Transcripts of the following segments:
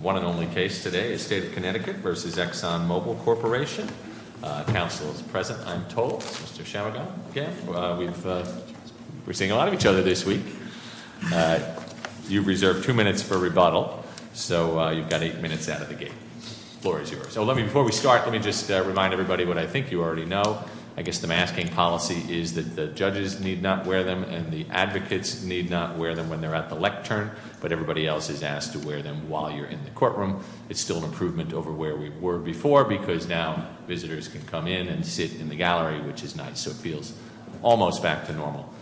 One and only case today is State of Connecticut versus Exxon Mobil Corporation. Council is present, I'm told, Mr. Chamagat, again, we're seeing a lot of each other this week. You've reserved two minutes for rebuttal, so you've got eight minutes out of the gate. Floor is yours. So let me, before we start, let me just remind everybody what I think you already know. I guess the masking policy is that the judges need not wear them and the advocates need not wear them when they're at the lectern. But everybody else is asked to wear them while you're in the courtroom. It's still an improvement over where we were before, because now visitors can come in and sit in the gallery, which is nice. So it feels almost back to normal.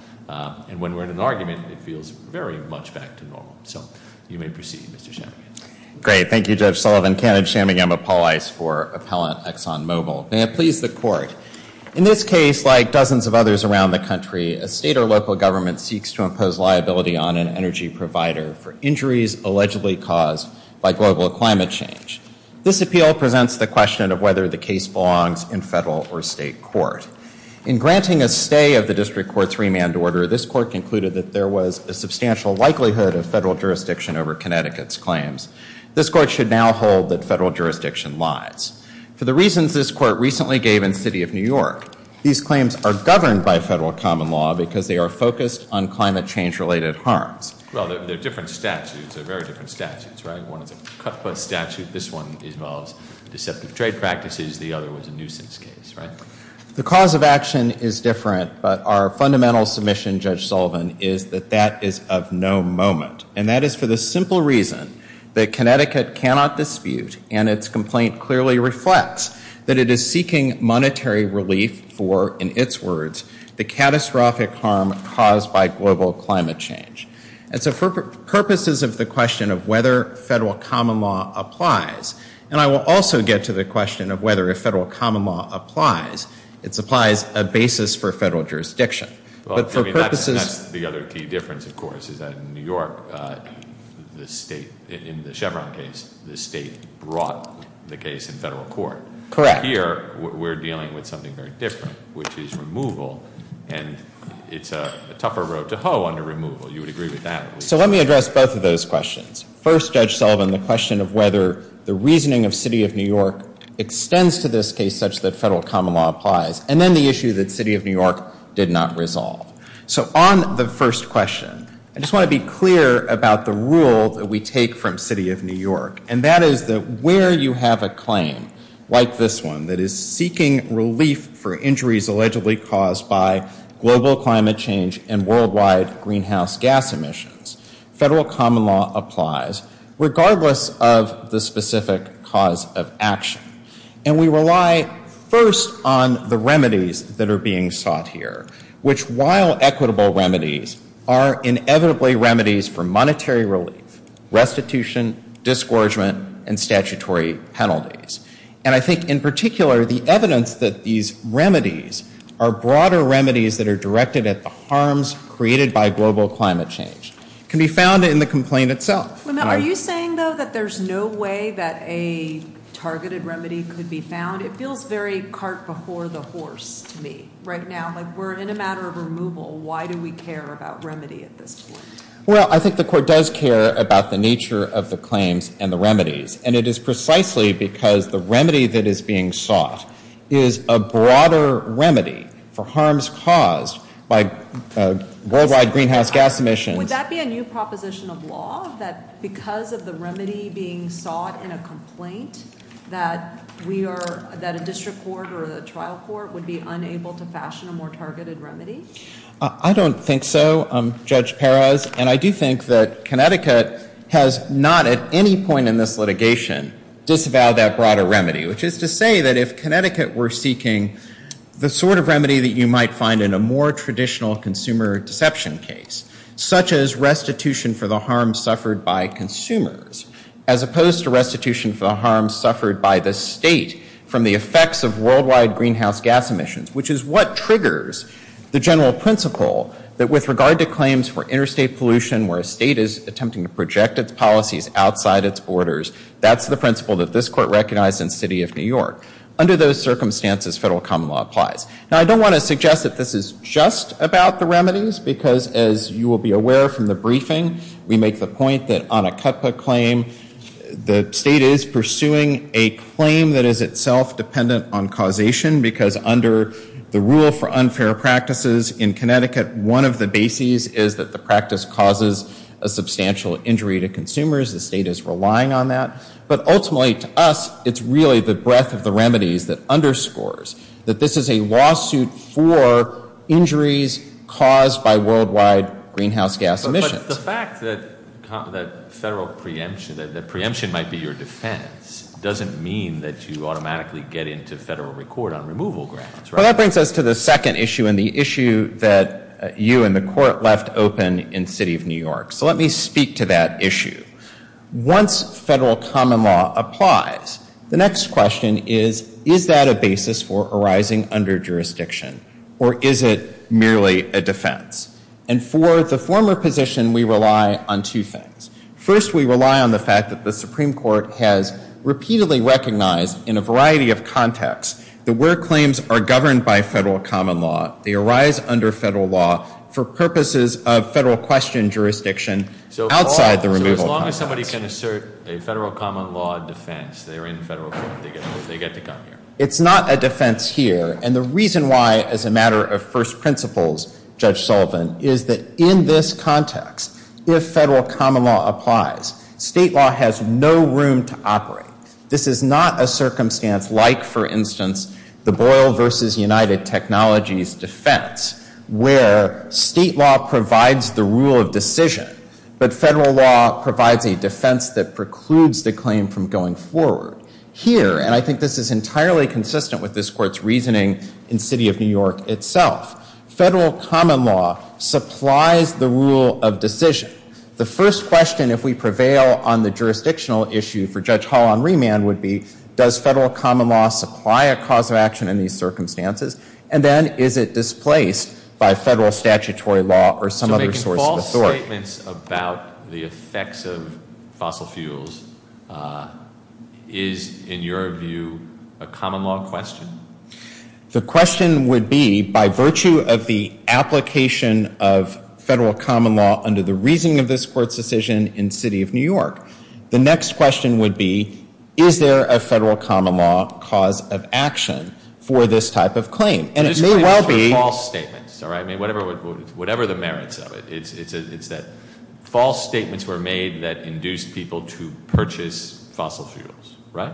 And when we're in an argument, it feels very much back to normal. So you may proceed, Mr. Chamagat. Great, thank you, Judge Sullivan. Kenneth Chamagat, I'm a police for Appellant Exxon Mobil. May it please the court. In this case, like dozens of others around the country, a state or local government seeks to impose liability on an energy provider for injuries allegedly caused by global climate change. This appeal presents the question of whether the case belongs in federal or state court. In granting a stay of the district court's remand order, this court concluded that there was a substantial likelihood of federal jurisdiction over Connecticut's claims. This court should now hold that federal jurisdiction lies. For the reasons this court recently gave in the city of New York, these claims are governed by federal common law because they are focused on climate change related harms. Well, they're different statutes, they're very different statutes, right? One is a cut-plus statute, this one involves deceptive trade practices, the other was a nuisance case, right? The cause of action is different, but our fundamental submission, Judge Sullivan, is that that is of no moment. And that is for the simple reason that Connecticut cannot dispute and its complaint clearly reflects that it is seeking monetary relief for, in its words, the catastrophic harm caused by global climate change. And so for purposes of the question of whether federal common law applies, and I will also get to the question of whether a federal common law applies, it supplies a basis for federal jurisdiction. But for purposes- That's the other key difference, of course, is that in New York, in the Chevron case, the state brought the case in federal court. Correct. Here, we're dealing with something very different, which is removal, and it's a tougher road to hoe under removal. You would agree with that? So let me address both of those questions. First, Judge Sullivan, the question of whether the reasoning of City of New York extends to this case such that federal common law applies. And then the issue that City of New York did not resolve. So on the first question, I just want to be clear about the rule that we take from City of New York. And that is that where you have a claim, like this one, that is seeking relief for injuries allegedly caused by global climate change and worldwide greenhouse gas emissions. Federal common law applies, regardless of the specific cause of action. And we rely first on the remedies that are being sought here, which while equitable remedies, are inevitably remedies for monetary relief, restitution, disgorgement, and statutory penalties. And I think in particular, the evidence that these remedies are broader remedies that are directed at the harms created by global climate change. Can be found in the complaint itself. Are you saying though that there's no way that a targeted remedy could be found? It feels very cart before the horse to me, right now. Like we're in a matter of removal, why do we care about remedy at this point? Well, I think the court does care about the nature of the claims and the remedies. And it is precisely because the remedy that is being sought is a broader remedy for harms caused by worldwide greenhouse gas emissions. Would that be a new proposition of law? That because of the remedy being sought in a complaint, that a district court or a trial court would be unable to fashion a more targeted remedy? I don't think so, Judge Perez. And I do think that Connecticut has not at any point in this litigation disavowed that broader remedy. Which is to say that if Connecticut were seeking the sort of remedy that you might find in a more traditional consumer deception case. Such as restitution for the harm suffered by consumers. As opposed to restitution for the harm suffered by the state from the effects of worldwide greenhouse gas emissions. Which is what triggers the general principle that with regard to claims for interstate pollution where a state is attempting to project its policies outside its borders. That's the principle that this court recognized in the city of New York. Under those circumstances, federal common law applies. Now I don't want to suggest that this is just about the remedies. Because as you will be aware from the briefing, we make the point that on a cutbook claim, the state is pursuing a claim that is itself dependent on causation. Because under the rule for unfair practices in Connecticut, one of the bases is that the practice causes a substantial injury to consumers. The state is relying on that. But ultimately to us, it's really the breadth of the remedies that underscores. That this is a lawsuit for injuries caused by worldwide greenhouse gas emissions. But the fact that federal preemption, that preemption might be your defense, doesn't mean that you automatically get into federal record on removal grounds, right? Well that brings us to the second issue and the issue that you and the court left open in the city of New York. So let me speak to that issue. Once federal common law applies, the next question is, is that a basis for arising under jurisdiction? Or is it merely a defense? And for the former position, we rely on two things. First, we rely on the fact that the Supreme Court has repeatedly recognized in a variety of contexts, that where claims are governed by federal common law, they arise under federal law for purposes of federal question jurisdiction outside the removal context. So as long as somebody can assert a federal common law defense, they're in federal court, they get to come here. It's not a defense here. And the reason why, as a matter of first principles, Judge Sullivan, is that in this context, if federal common law applies, state law has no room to operate. This is not a circumstance like, for instance, the Boyle versus United Technologies defense, where state law provides the rule of decision, but federal law provides a defense that precludes the claim from going forward. Here, and I think this is entirely consistent with this court's reasoning in city of New York itself, federal common law supplies the rule of decision. The first question, if we prevail on the jurisdictional issue for Judge Hall on remand would be, does federal common law supply a cause of action in these circumstances? And then, is it displaced by federal statutory law or some other source of authority? So making false statements about the effects of fossil fuels is, in your view, a common law question? The question would be, by virtue of the application of federal common law under the reasoning of this court's decision in city of New York, the next question would be, is there a federal common law cause of action for this type of claim? And it may well be- False statements, all right? I mean, whatever the merits of it, it's that false statements were made that induced people to purchase fossil fuels, right?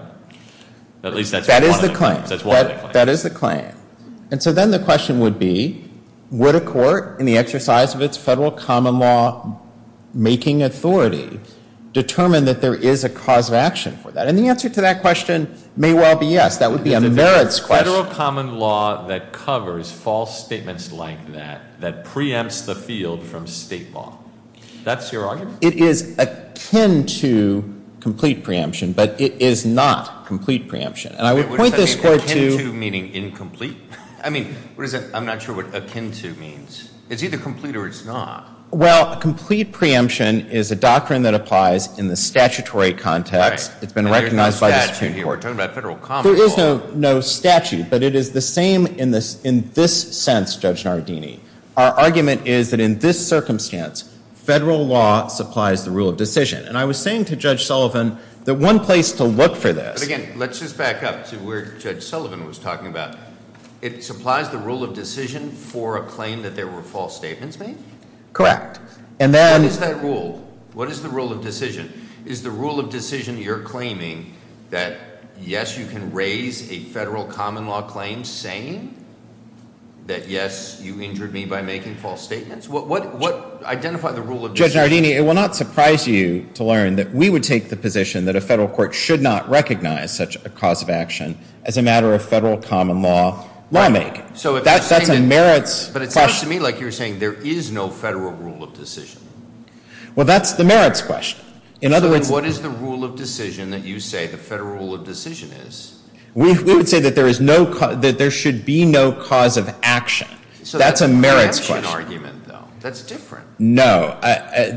At least that's one of the claims. That is the claim. And so then the question would be, would a court, in the exercise of its federal common law making authority, determine that there is a cause of action for that? And the answer to that question may well be yes. That would be a merits question. Is there a federal common law that covers false statements like that, that preempts the field from state law? That's your argument? It is akin to complete preemption, but it is not complete preemption. And I would point this court to- What does akin to mean, incomplete? I mean, I'm not sure what akin to means. It's either complete or it's not. Well, a complete preemption is a doctrine that applies in the statutory context. It's been recognized by the Supreme Court. And there's no statute here. We're talking about federal common law. There is no statute, but it is the same in this sense, Judge Nardini. Our argument is that in this circumstance, federal law supplies the rule of decision. And I was saying to Judge Sullivan that one place to look for this- But again, let's just back up to where Judge Sullivan was talking about. It supplies the rule of decision for a claim that there were false statements made? Correct. And then- What is that rule? What is the rule of decision? Is the rule of decision you're claiming that yes, you can raise a federal common law claim saying that yes, you injured me by making false statements? What, identify the rule of decision- Judge Nardini, it will not surprise you to learn that we would take the position that a federal court should not recognize such a cause of action as a matter of federal common law lawmaking. That's a merits- But it sounds to me like you're saying there is no federal rule of decision. Well, that's the merits question. In other words- So then what is the rule of decision that you say the federal rule of decision is? We would say that there should be no cause of action. So that's a merits question. So that's an action argument, though. That's different. No,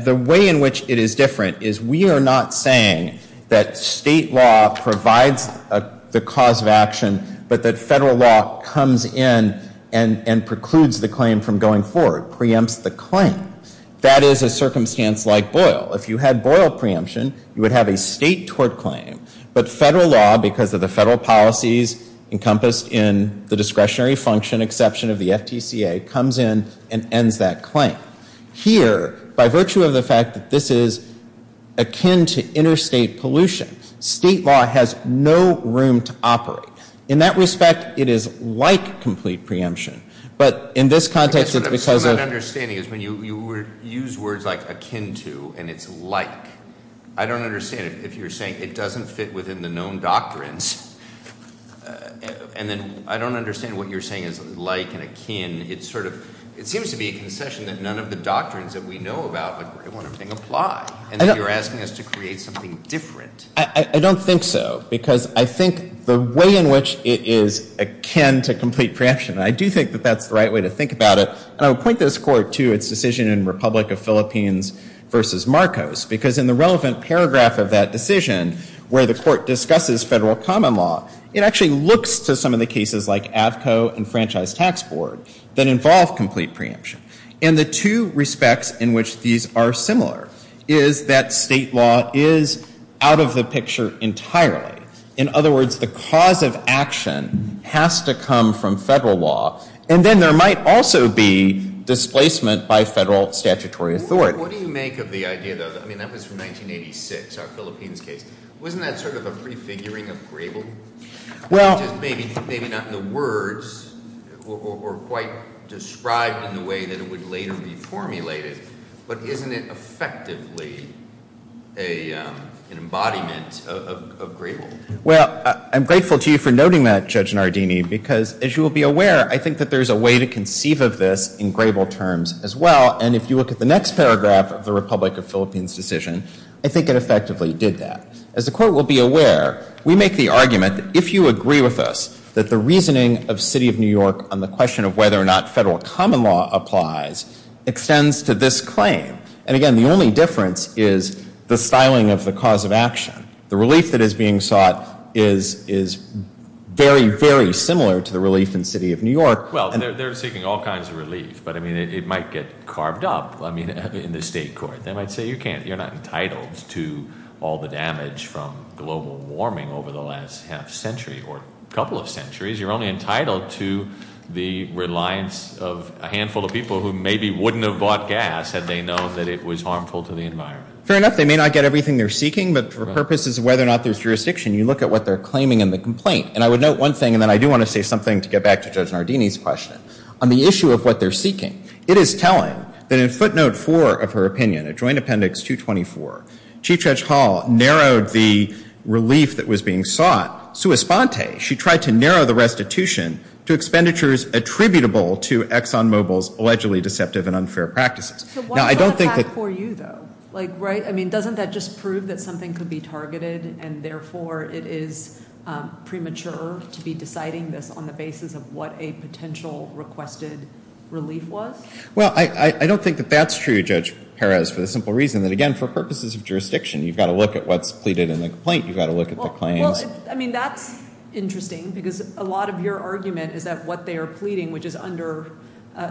the way in which it is different is we are not saying that state law provides the cause of action, but that federal law comes in and precludes the claim from going forward, preempts the claim. That is a circumstance like Boyle. If you had Boyle preemption, you would have a state tort claim. But federal law, because of the federal policies encompassed in the discretionary function exception of the FTCA, comes in and ends that claim. Here, by virtue of the fact that this is akin to interstate pollution, state law has no room to operate. In that respect, it is like complete preemption. But in this context, it's because of- I guess what I'm not understanding is when you use words like akin to, and it's like. I don't understand it if you're saying it doesn't fit within the known doctrines, and then I don't understand what you're saying is like and akin, it's sort of, it seems to be a concession that none of the doctrines that we know about apply, and you're asking us to create something different. I don't think so, because I think the way in which it is akin to complete preemption, and I do think that that's the right way to think about it, and I would point this court to its decision in Republic of Philippines versus Marcos, because in the relevant paragraph of that decision, where the court discusses federal common law, it actually looks to some of the cases like Avco and Franchise Tax Board that involve complete preemption. And the two respects in which these are similar is that state law is out of the picture entirely. In other words, the cause of action has to come from federal law, and then there might also be displacement by federal statutory authority. What do you make of the idea, though? I mean, that was from 1986, our Philippines case. Wasn't that sort of a prefiguring of gravely? Well- Maybe not in the words, or quite described in the way that it would later be formulated, but isn't it effectively an embodiment of gravely? Well, I'm grateful to you for noting that, Judge Nardini, because as you will be aware, I think that there's a way to conceive of this in gravely terms as well, and if you look at the next paragraph of the Republic of Philippines decision, I think it effectively did that. As the court will be aware, we make the argument that if you agree with us that the reasoning of City of New York on the question of whether or not federal common law applies extends to this claim. And again, the only difference is the styling of the cause of action. The relief that is being sought is very, very similar to the relief in City of New York. Well, they're seeking all kinds of relief, but I mean, it might get carved up in the state court. But then I'd say you're not entitled to all the damage from global warming over the last half century or couple of centuries. You're only entitled to the reliance of a handful of people who maybe wouldn't have bought gas had they known that it was harmful to the environment. Fair enough, they may not get everything they're seeking, but for purposes of whether or not there's jurisdiction, you look at what they're claiming in the complaint. And I would note one thing, and then I do want to say something to get back to Judge Nardini's question. On the issue of what they're seeking, it is telling that in footnote four of her opinion, adjoined appendix 224, Chief Judge Hall narrowed the relief that was being sought. Sui sponte, she tried to narrow the restitution to expenditures attributable to Exxon Mobil's allegedly deceptive and unfair practices. Now, I don't think that- So why is that for you, though? Like, right? I mean, doesn't that just prove that something could be targeted and therefore it is citing this on the basis of what a potential requested relief was? Well, I don't think that that's true, Judge Perez, for the simple reason that, again, for purposes of jurisdiction, you've got to look at what's pleaded in the complaint. You've got to look at the claims. I mean, that's interesting, because a lot of your argument is that what they are pleading, which is under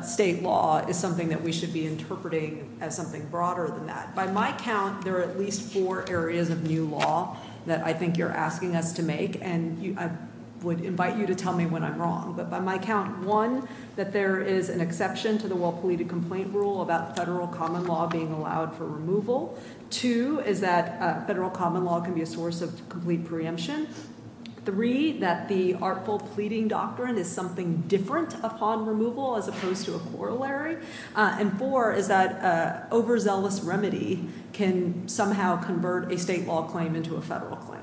state law, is something that we should be interpreting as something broader than that. By my count, there are at least four areas of new law that I think you're asking us to make. And I would invite you to tell me when I'm wrong. But by my count, one, that there is an exception to the well-pleaded complaint rule about federal common law being allowed for removal. Two, is that federal common law can be a source of complete preemption. Three, that the artful pleading doctrine is something different upon removal as opposed to a corollary. And four, is that overzealous remedy can somehow convert a state law claim into a federal claim.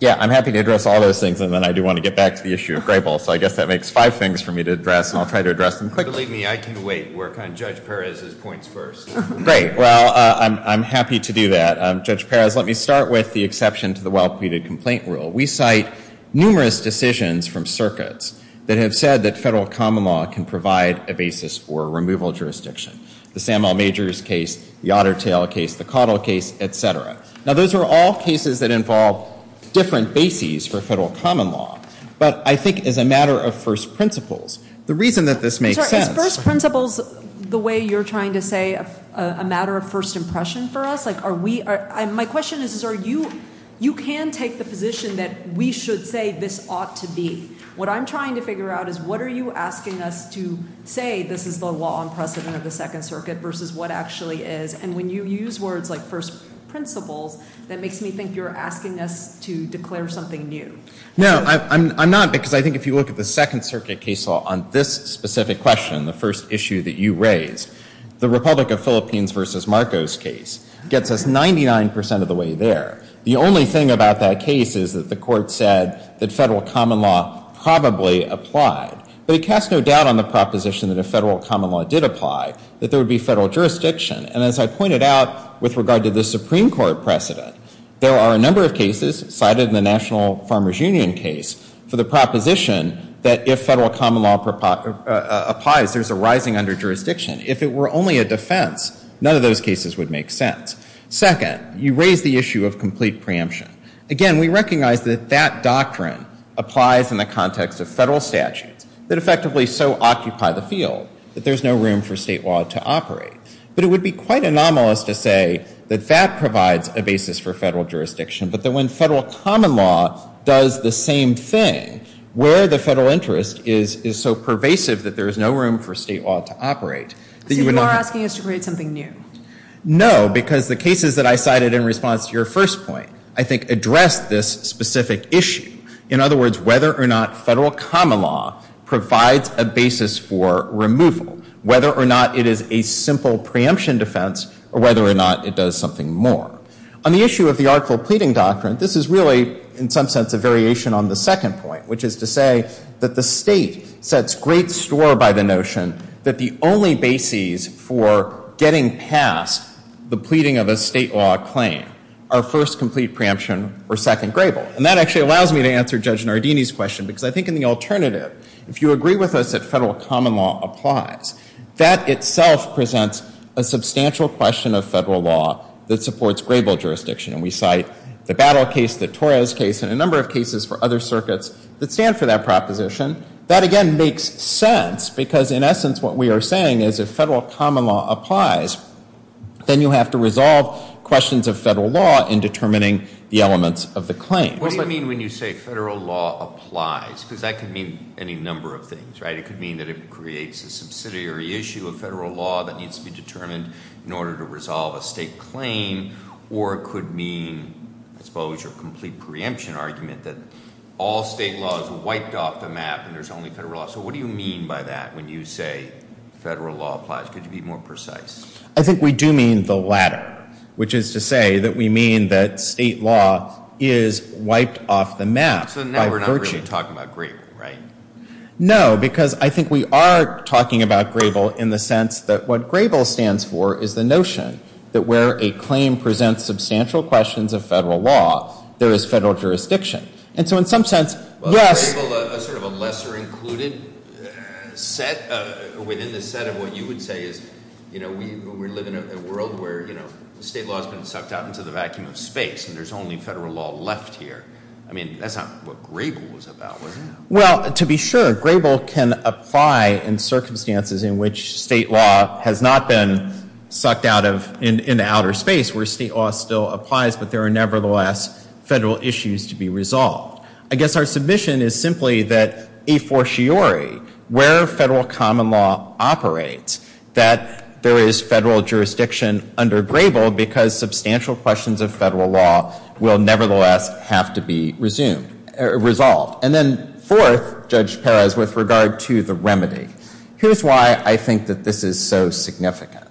Yeah, I'm happy to address all those things, and then I do want to get back to the issue of Grable. So I guess that makes five things for me to address, and I'll try to address them quickly. Believe me, I can wait. We're kind of Judge Perez's points first. Great. Well, I'm happy to do that. Judge Perez, let me start with the exception to the well-pleaded complaint rule. We cite numerous decisions from circuits that have said that federal common law can provide a basis for removal jurisdiction. The Samuel Majors case, the Otter Tail case, the Caudill case, et cetera. Now those are all cases that involve different bases for federal common law. But I think as a matter of first principles, the reason that this makes sense- Sir, is first principles the way you're trying to say a matter of first impression for us? Like are we, my question is, is are you, you can take the position that we should say this ought to be. What I'm trying to figure out is what are you asking us to say this is the law on precedent of the second circuit versus what actually is. And when you use words like first principles, that makes me think you're asking us to declare something new. No, I'm not because I think if you look at the second circuit case law on this specific question, the first issue that you raised. The Republic of Philippines versus Marcos case gets us 99% of the way there. The only thing about that case is that the court said that federal common law probably applied. But it casts no doubt on the proposition that if federal common law did apply, that there would be federal jurisdiction. And as I pointed out with regard to the Supreme Court precedent, there are a number of cases cited in the National Farmers Union case for the proposition that if federal common law applies, there's a rising under jurisdiction. If it were only a defense, none of those cases would make sense. Second, you raise the issue of complete preemption. Again, we recognize that that doctrine applies in the context of federal statutes that effectively so occupy the field that there's no room for state law to operate. But it would be quite anomalous to say that that provides a basis for federal jurisdiction, but that when federal common law does the same thing, where the federal interest is so pervasive that there's no room for state law to operate, that you would not have. So you are asking us to create something new? No, because the cases that I cited in response to your first point, I think, address this specific issue. In other words, whether or not federal common law provides a basis for removal, whether or not it is a simple preemption defense, or whether or not it does something more. On the issue of the artful pleading doctrine, this is really, in some sense, a variation on the second point, which is to say that the state sets great store by the notion that the only basis for getting past the pleading of a state law claim are first complete preemption or second grable. And that actually allows me to answer Judge Nardini's question, because I think in the alternative, if you agree with us that federal common law applies, that itself presents a substantial question of federal law that supports grable jurisdiction. And we cite the Battle case, the Torres case, and a number of cases for other circuits that stand for that proposition. That, again, makes sense, because in essence, what we are saying is if federal common law applies, then you have to resolve questions of federal law in determining the elements of the claim. What does that mean when you say federal law applies? because that could mean any number of things, right? It could mean that it creates a subsidiary issue of federal law that needs to be determined in order to resolve a state claim. Or it could mean, I suppose, your complete preemption argument that all state law is wiped off the map and there's only federal law. So what do you mean by that when you say federal law applies? Could you be more precise? I think we do mean the latter, which is to say that we mean that state law is wiped off the map by virtue. So now we're not really talking about grable, right? No, because I think we are talking about grable in the sense that what grable stands for is the notion that where a claim presents substantial questions of federal law, there is federal jurisdiction. And so in some sense, yes- Is grable a sort of a lesser included set within the set of what you would say is, we live in a world where state law has been sucked out into the vacuum of space and there's only federal law left here. I mean, that's not what grable was about, was it? Well, to be sure, grable can apply in circumstances in which state law has not been sucked out of, in the outer space, where state law still applies. But there are nevertheless federal issues to be resolved. I guess our submission is simply that a forciore, where federal common law operates, that there is federal jurisdiction under grable because substantial questions of federal law will nevertheless have to be resumed, resolved. And then fourth, Judge Perez, with regard to the remedy. Here's why I think that this is so significant.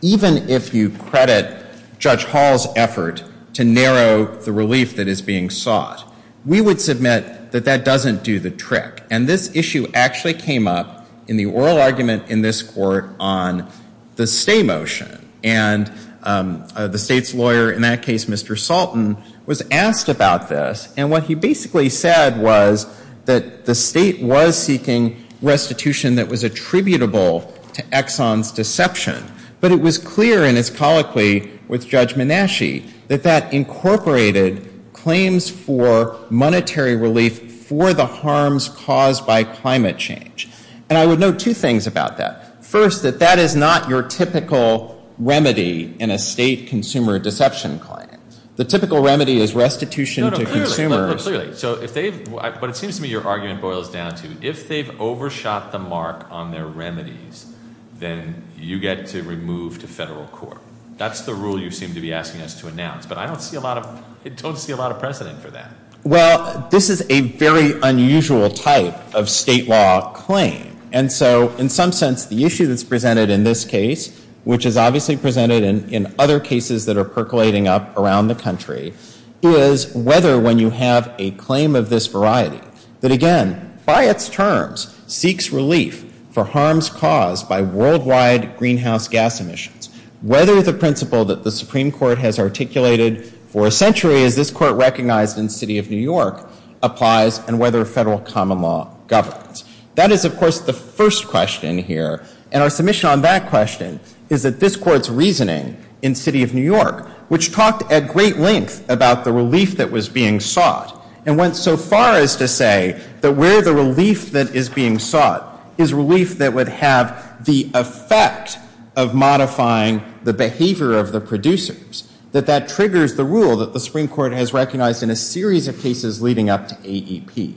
Even if you credit Judge Hall's effort to narrow the relief that is being sought, we would submit that that doesn't do the trick. And this issue actually came up in the oral argument in this court on the stay motion. And the state's lawyer, in that case, Mr. Salton, was asked about this. And what he basically said was that the state was seeking restitution that was attributable to Exxon's deception. But it was clear in his colloquy with Judge Menasche that that incorporated claims for monetary relief for the harms caused by climate change. And I would note two things about that. First, that that is not your typical remedy in a state consumer deception claim. The typical remedy is restitution to consumers. No, no, clearly. So if they've, what it seems to me your argument boils down to, if they've overshot the mark on their remedies, then you get to remove to federal court. That's the rule you seem to be asking us to announce. But I don't see a lot of, I don't see a lot of precedent for that. Well, this is a very unusual type of state law claim. And so, in some sense, the issue that's presented in this case, which is obviously presented in other cases that are percolating up around the country, is whether when you have a claim of this variety, that again, by its terms, seeks relief for harms caused by worldwide greenhouse gas emissions. Whether the principle that the Supreme Court has articulated for a century, as this court recognized in the city of New York, applies and whether federal common law governs. That is, of course, the first question here. And our submission on that question is that this court's reasoning in the city of New York, which talked at great length about the relief that was being sought, and went so far as to say that where the relief that is being sought is relief that would have the effect of modifying the behavior of the producers, that that triggers the rule that the Supreme Court has recognized in a series of cases leading up to AEP.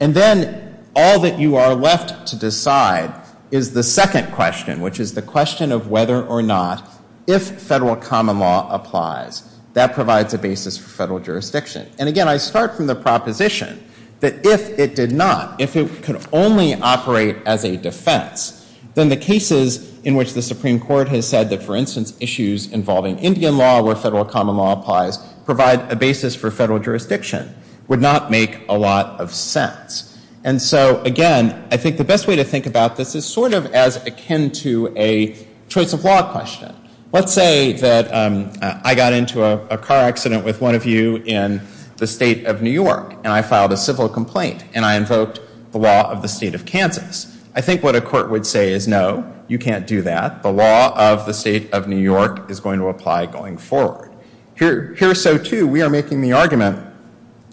And then, all that you are left to decide is the second question, which is the question of whether or not, if federal common law applies, that provides a basis for federal jurisdiction. And again, I start from the proposition that if it did not, if it could only operate as a defense, then the cases in which the Supreme Court has said that, for instance, issues involving Indian law, where federal common law applies, provide a basis for federal jurisdiction, would not make a lot of sense. And so, again, I think the best way to think about this is sort of as akin to a choice of law question. Let's say that I got into a car accident with one of you in the state of New York, and I filed a civil complaint, and I invoked the law of the state of Kansas. I think what a court would say is, no, you can't do that. The law of the state of New York is going to apply going forward. Here, so too, we are making the argument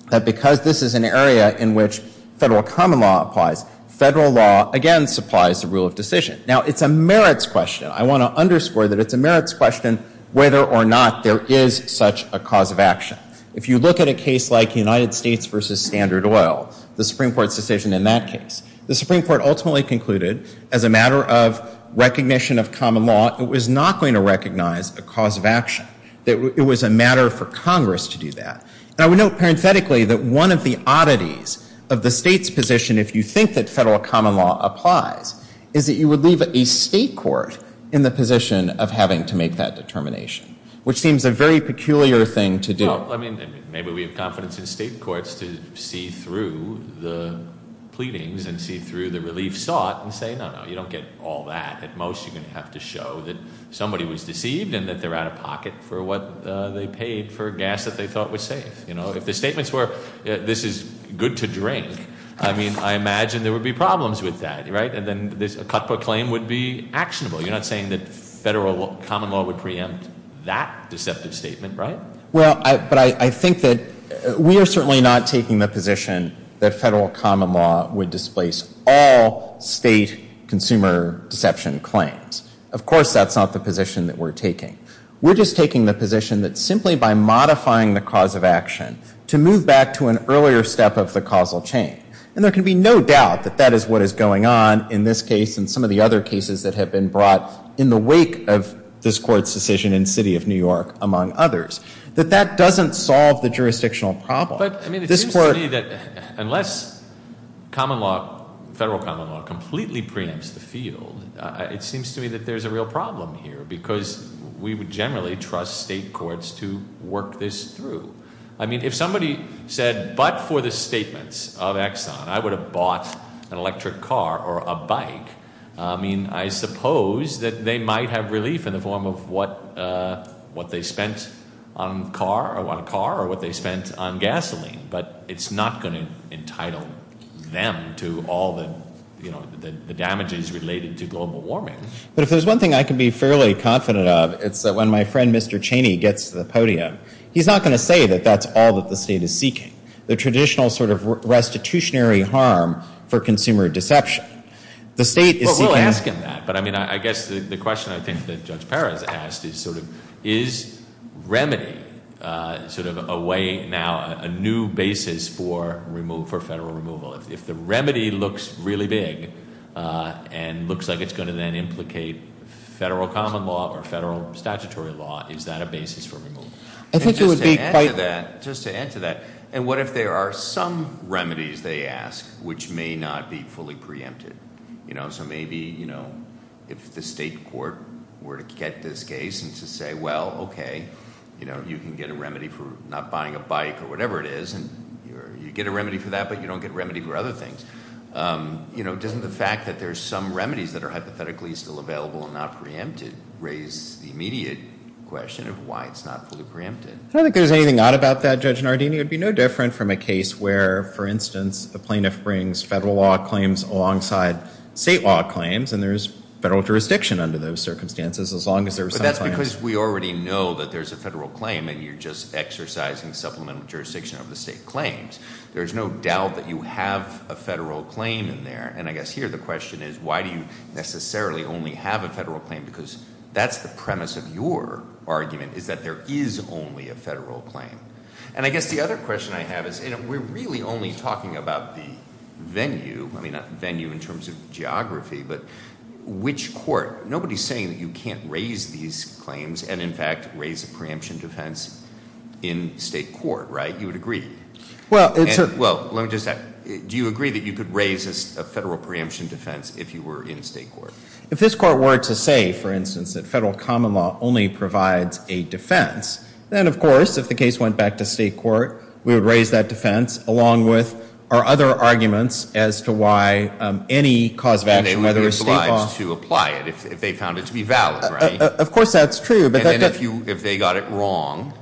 that because this is an area in which federal common law applies, federal law, again, supplies the rule of decision. Now, it's a merits question. I want to underscore that it's a merits question whether or not there is such a cause of action. If you look at a case like the United States versus Standard Oil, the Supreme Court's decision in that case, the Supreme Court ultimately concluded, as a matter of recognition of common law, it was not going to recognize a cause of action. It was a matter for Congress to do that. And I would note parenthetically that one of the oddities of the state's position, if you think that federal common law applies, is that you would leave a state court in the position of having to make that determination, which seems a very peculiar thing to do. Well, I mean, maybe we have confidence in state courts to see through the pleadings and see through the relief sought and say, no, no, you don't get all that. At most, you're going to have to show that somebody was deceived and that they're out of pocket for what they paid for gas that they thought was safe. You know, if the statements were, this is good to drink, I mean, I imagine there would be problems with that, right? And then a cutbook claim would be actionable. You're not saying that federal common law would preempt that deceptive statement, right? Well, but I think that we are certainly not taking the position that federal common law would displace all state consumer deception claims. Of course, that's not the position that we're taking. We're just taking the position that simply by modifying the cause of action to move back to an earlier step of the causal chain, and there can be no doubt that that is what is going on in this case and some of the other cases that have been brought in the wake of this court's decision in the city of New York, among others, that that doesn't solve the jurisdictional problem. But, I mean, it seems to me that unless common law, federal common law completely preempts the field, it seems to me that there's a real problem here, because we would generally trust state courts to work this through. I mean, if somebody said, but for the statements of Exxon, I would have bought an electric car or a bike, I mean, I suppose that they might have relief in the form of what they spent on a car or what they spent on gasoline. But it's not going to entitle them to all the, you know, the damages related to global warming. But if there's one thing I can be fairly confident of, it's that when my friend, Mr. Cheney, gets to the podium, he's not going to say that that's all that the state is seeking. The traditional sort of restitutionary harm for consumer deception. The state is seeking. Well, we'll ask him that. But, I mean, I guess the question I think that Judge Perez asked is sort of, is remedy sort of a way now, a new basis for federal removal? If the remedy looks really big and looks like it's going to then implicate federal common law or federal statutory law, is that a basis for removal? I think it would be quite- Just to add to that, and what if there are some remedies, they ask, which may not be fully preempted? You know, so maybe, you know, if the state court were to get this case and to say, well, okay, you know, you can get a remedy for not buying a bike or whatever it is, and you get a remedy for that, but you don't get a remedy for other things. You know, doesn't the fact that there's some remedies that are hypothetically still available and not preempted raise the immediate question of why it's not fully preempted? I don't think there's anything odd about that, Judge Nardini. It would be no different from a case where, for instance, a plaintiff brings federal law claims alongside state law claims, and there's federal jurisdiction under those circumstances, as long as there's some claims. But that's because we already know that there's a federal claim, and you're just exercising supplemental jurisdiction of the state claims. There's no doubt that you have a federal claim in there, and I guess here the question is, why do you necessarily only have a federal claim? Because that's the premise of your argument, is that there is only a federal claim. And I guess the other question I have is, you know, we're really only talking about the venue, I mean, not the venue in terms of geography, but which court? Nobody's saying that you can't raise these claims and, in fact, raise a preemption defense in state court, right? You would agree? Well, it's a... Well, let me just ask, do you agree that you could raise a federal preemption defense if you were in state court? If this court were to say, for instance, that federal common law only provides a defense, then, of course, if the case went back to state court, we would raise that defense along with our other arguments as to why any cause of action, whether it's state law... And they would be obliged to apply it if they found it to be valid, right? Of course, that's true, but... And then if they got it wrong,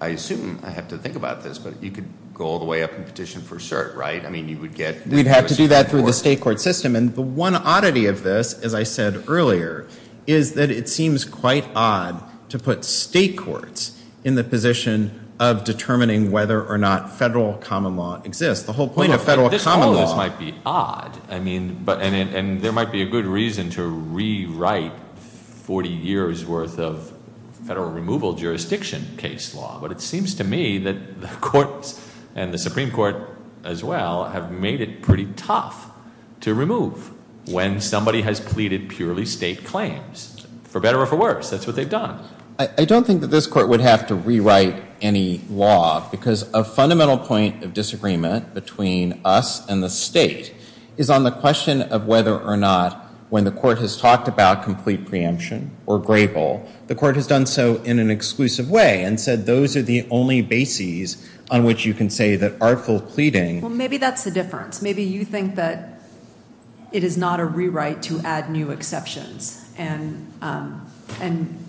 I assume, I have to think about this, but you could go all the way up and petition for cert, right? I mean, you would get... We'd have to do that through the state court system. And the one oddity of this, as I said earlier, is that it seems quite odd to put state courts in the position of determining whether or not federal common law exists. The whole point of federal common law... This might be odd, I mean, and there might be a good reason to rewrite 40 years worth of federal removal jurisdiction case law, but it seems to me that the courts and the Supreme Court as well have made it pretty tough to remove when somebody has pleaded purely state claims. For better or for worse, that's what they've done. I don't think that this court would have to rewrite any law because a fundamental point of disagreement between us and the state is on the question of whether or not, when the court has talked about complete preemption or grable, the court has done so in an exclusive way and said, those are the only bases on which you can say that artful pleading... Maybe that's the difference. Maybe you think that it is not a rewrite to add new exceptions. And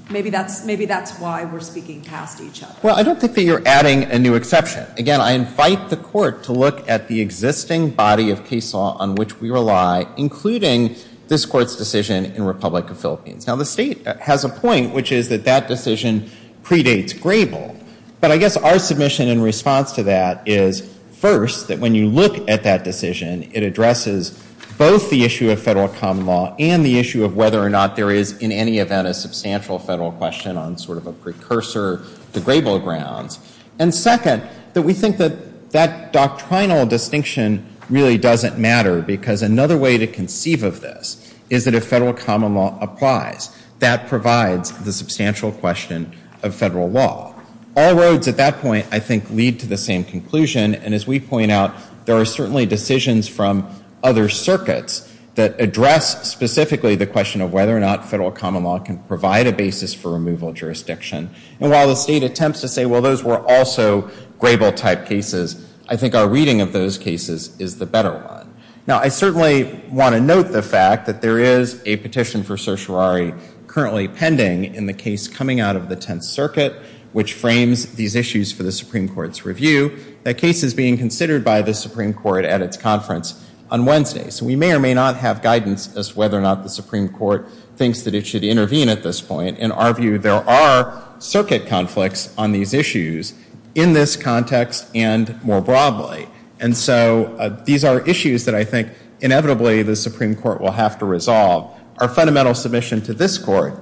maybe that's why we're speaking past each other. Well, I don't think that you're adding a new exception. Again, I invite the court to look at the existing body of case law on which we rely, including this court's decision in Republic of Philippines. Now, the state has a point, which is that that decision predates grable. But I guess our submission in response to that is, first, that when you look at that decision, it addresses both the issue of federal common law and the issue of whether or not there is, in any event, a substantial federal question on sort of a precursor to grable grounds. And second, that we think that that doctrinal distinction really doesn't matter because another way to conceive of this is that if federal common law applies, that provides the substantial question of federal law. All roads at that point, I think, lead to the same conclusion. And as we point out, there are certainly decisions from other circuits that address specifically the question of whether or not federal common law can provide a basis for removal of jurisdiction. And while the state attempts to say, well, those were also grable-type cases, I think our reading of those cases is the better one. Now, I certainly want to note the fact that there is a petition for certiorari currently pending in the case coming out of the Tenth Circuit, which frames these issues for the Supreme Court's review. That case is being considered by the Supreme Court at its conference on Wednesday. So we may or may not have guidance as to whether or not the Supreme Court thinks that it should intervene at this point. In our view, there are circuit conflicts on these issues in this context and more broadly. And so these are issues that I think, inevitably, the Supreme Court will have to resolve. Our fundamental submission to this Court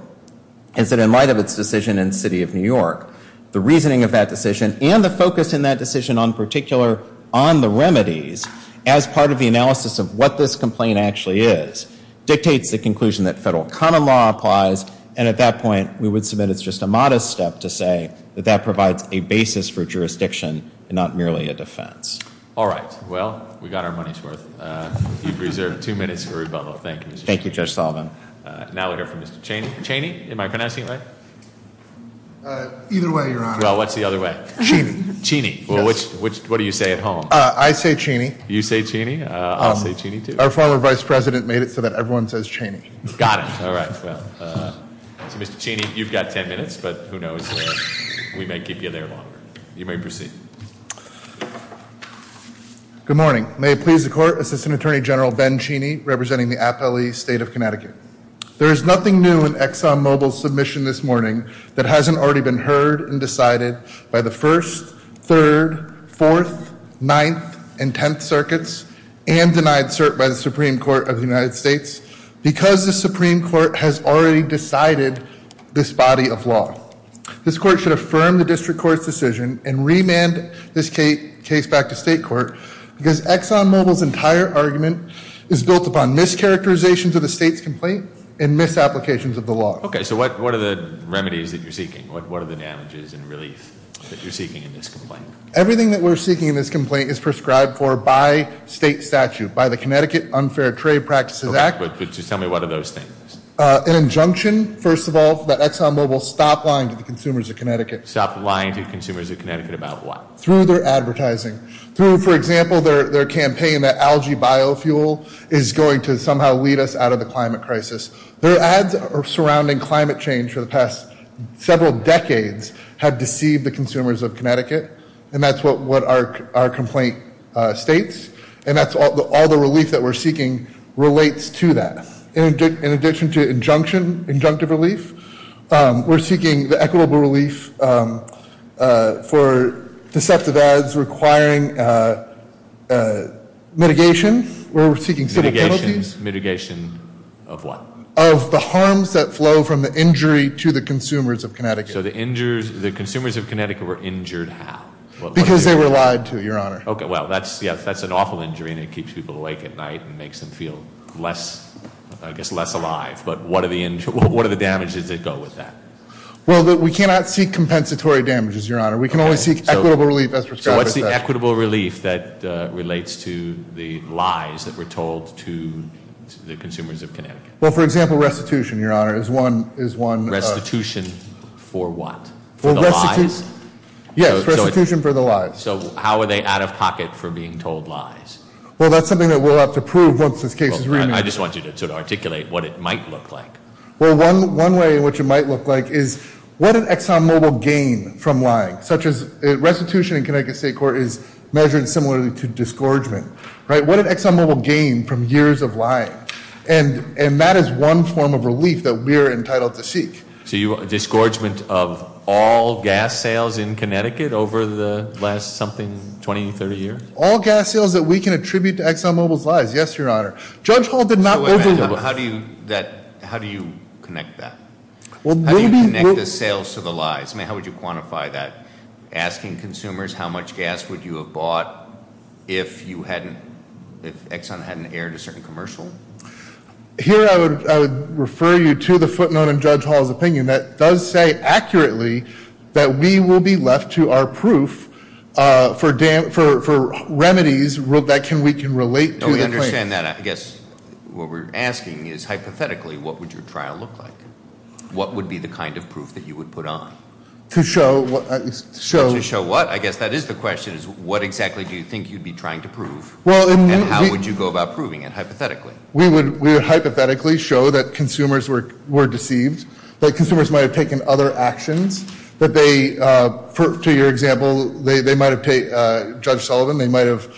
is that in light of its decision in the City of New York, the reasoning of that decision and the focus in that decision on particular on the remedies as part of the analysis of what this complaint actually is dictates the conclusion that federal common law applies. And at that point, we would submit it's just a modest step to say that that provides a basis for jurisdiction and not merely a defense. All right. Well, we got our money's worth. You've reserved two minutes for rebuttal. Thank you. Thank you, Judge Sullivan. Now we'll hear from Mr. Cheney. Cheney, am I pronouncing it right? Either way, Your Honor. Well, what's the other way? Cheney. Cheney. Well, what do you say at home? I say Cheney. You say Cheney? I'll say Cheney too. Our former Vice President made it so that everyone says Cheney. Got it. All right. Well, Mr. Cheney, you've got 10 minutes, but who knows? We may keep you there longer. You may proceed. Good morning. May it please the Court, Assistant Attorney General Ben Cheney, representing the Appellee State of Connecticut. There is nothing new in ExxonMobil's submission this morning that hasn't already been heard and decided by the First, Third, Fourth, Ninth, and Tenth Circuits, and denied cert by the Supreme Court of the United States, because the Supreme Court has already decided this body of law. This Court should affirm the district court's decision and remand this case back to state because ExxonMobil's entire argument is built upon mischaracterizations of the state's complaint and misapplications of the law. Okay, so what are the remedies that you're seeking? What are the damages and relief that you're seeking in this complaint? Everything that we're seeking in this complaint is prescribed for by state statute, by the Connecticut Unfair Trade Practices Act. Okay, but just tell me what are those things? An injunction, first of all, that ExxonMobil stop lying to the consumers of Connecticut. Stop lying to consumers of Connecticut about what? Through their advertising. Through, for example, their campaign that algae biofuel is going to somehow lead us out of the climate crisis. Their ads surrounding climate change for the past several decades have deceived the consumers of Connecticut. And that's what our complaint states. And that's all the relief that we're seeking relates to that. In addition to injunction, injunctive relief, we're seeking the equitable relief for deceptive ads requiring mitigation. We're seeking civil penalties. Mitigation of what? Of the harms that flow from the injury to the consumers of Connecticut. So the consumers of Connecticut were injured how? Because they were lied to, your honor. Okay, well, that's an awful injury and it keeps people awake at night and makes them feel less, I guess, less alive. But what are the damages that go with that? Well, we cannot seek compensatory damages, your honor. We can only seek equitable relief as prescribed. So what's the equitable relief that relates to the lies that were told to the consumers of Connecticut? Well, for example, restitution, your honor, is one. Restitution for what? Yes, restitution for the lies. So how are they out of pocket for being told lies? Well, that's something that we'll have to prove once this case is remanded. I just want you to articulate what it might look like. Well, one way in which it might look like is what did ExxonMobil gain from lying? Such as restitution in Connecticut State Court is measured similarly to disgorgement, right? What did ExxonMobil gain from years of lying? And that is one form of relief that we are entitled to seek. So you want a disgorgement of all gas sales in Connecticut over the last something 20, 30 years? All gas sales that we can attribute to ExxonMobil's lies. Yes, your honor. Judge Hall did not overrule. How do you connect that? How do you connect the sales to the lies? I mean, how would you quantify that? Asking consumers how much gas would you have bought if Exxon hadn't aired a certain commercial? Here, I would refer you to the footnote in Judge Hall's opinion that does say accurately that we will be left to our proof for remedies that we can relate to. To understand that, I guess what we're asking is hypothetically, what would your trial look like? What would be the kind of proof that you would put on? To show what? I guess that is the question, is what exactly do you think you'd be trying to prove? And how would you go about proving it, hypothetically? We would hypothetically show that consumers were deceived. That consumers might have taken other actions. That they, to your example, Judge Sullivan, they might have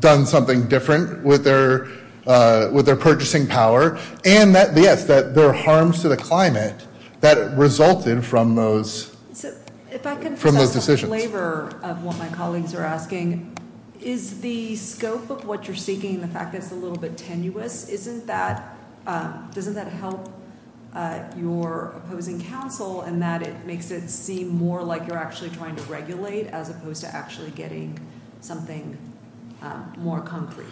done something different with their purchasing power. And that, yes, that there are harms to the climate that resulted from those decisions. If I could just ask a flavor of what my colleagues are asking. Is the scope of what you're seeking, the fact that it's a little bit tenuous, doesn't that help your opposing counsel? And that it makes it seem more like you're actually trying to regulate as opposed to actually getting something more concrete.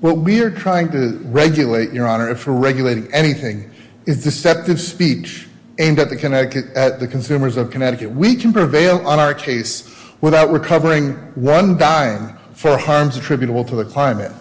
What we are trying to regulate, Your Honor, if we're regulating anything, is deceptive speech aimed at the consumers of Connecticut. We can prevail on our case without recovering one dime for harms attributable to the climate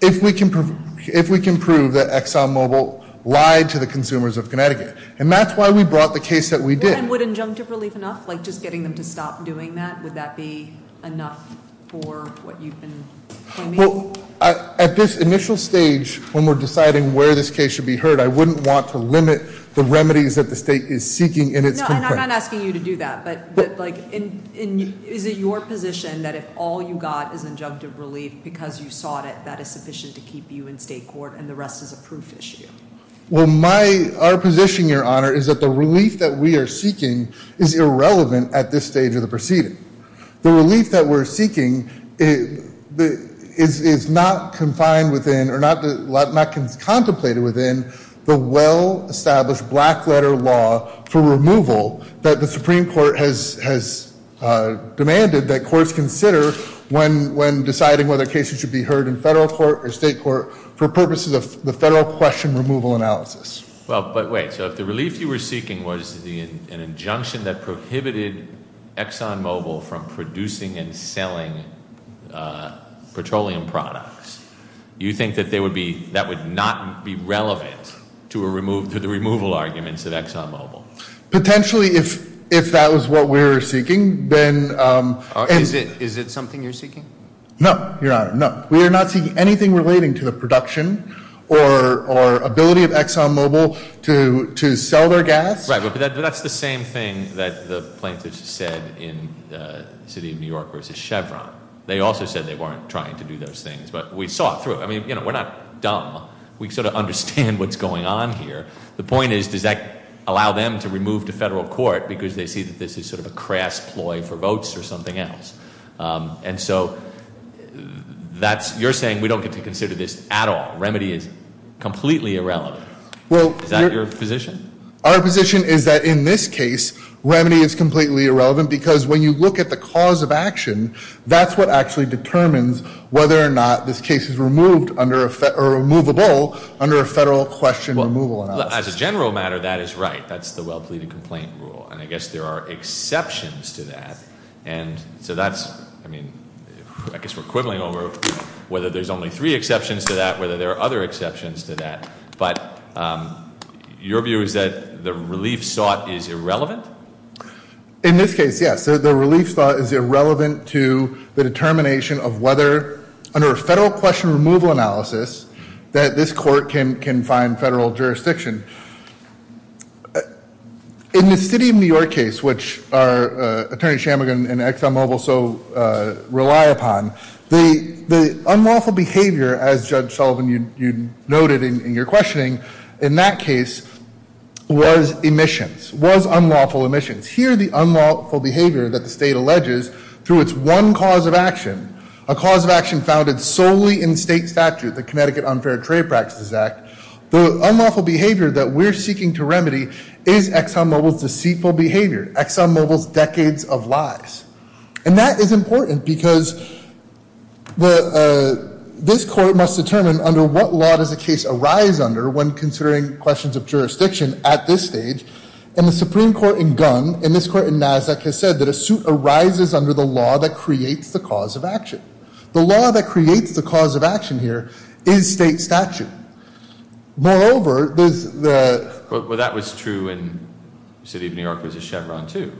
if we can prove that ExxonMobil lied to the consumers of Connecticut. And that's why we brought the case that we did. And would injunctive relief enough? Just getting them to stop doing that, would that be enough for what you've been claiming? Well, at this initial stage, when we're deciding where this case should be heard, I wouldn't want to limit the remedies that the state is seeking in its- No, I'm not asking you to do that. Is it your position that if all you got is injunctive relief because you sought it, that is sufficient to keep you in state court and the rest is a proof issue? Well, our position, Your Honor, is that the relief that we are seeking is irrelevant at this stage of the proceeding. The relief that we're seeking is not confined within or not contemplated within the well-established black letter law for removal that the Supreme Court has demanded that courts consider when deciding whether cases should be heard in federal court or state court for purposes of the federal question removal analysis. Well, but wait. So if the relief you were seeking was an injunction that prohibited Exxon Mobil from producing and selling petroleum products, you think that would not be relevant to the removal arguments of Exxon Mobil? Potentially, if that was what we were seeking, then- Is it something you're seeking? No, Your Honor, no. We are not seeking anything relating to the production or ability of Exxon Mobil to sell their gas. Right, but that's the same thing that the plaintiffs said in the city of New York versus Chevron. They also said they weren't trying to do those things, but we saw it through. I mean, we're not dumb. We sort of understand what's going on here. The point is, does that allow them to remove to federal court because they see that this is sort of a crass ploy for votes or something else? And so that's- You're saying we don't get to consider this at all. Remedy is completely irrelevant. Well- Is that your position? Our position is that in this case, remedy is completely irrelevant because when you look at the cause of action, that's what actually determines whether or not this case is removed or removable under a federal question removal analysis. As a general matter, that is right. That's the well-pleaded complaint rule. And I guess there are exceptions to that. And so that's, I mean, I guess we're quibbling over whether there's only three exceptions to that, whether there are other exceptions to that. But your view is that the relief sought is irrelevant? In this case, yes. The relief sought is irrelevant to the determination of whether, under a federal question removal analysis, that this court can find federal jurisdiction. In the City of New York case, which Attorney Shammugan and Exxon Mobil so rely upon, the unlawful behavior, as Judge Sullivan, you noted in your questioning, in that case was emissions, was unlawful emissions. Here, the unlawful behavior that the state alleges through its one cause of action, a cause of action founded solely in state statute, the Connecticut Unfair Trade Practices Act, the unlawful behavior that we're seeking to remedy is Exxon Mobil's deceitful behavior, Exxon Mobil's decades of lies. And that is important because this court must determine under what law does a case arise under when considering questions of jurisdiction at this stage. And the Supreme Court in Gunn, and this court in Nasdaq, has said that a suit arises under the law that creates the cause of action. The law that creates the cause of action here is state statute. Moreover, there's the- Well, that was true in City of New York versus Chevron too.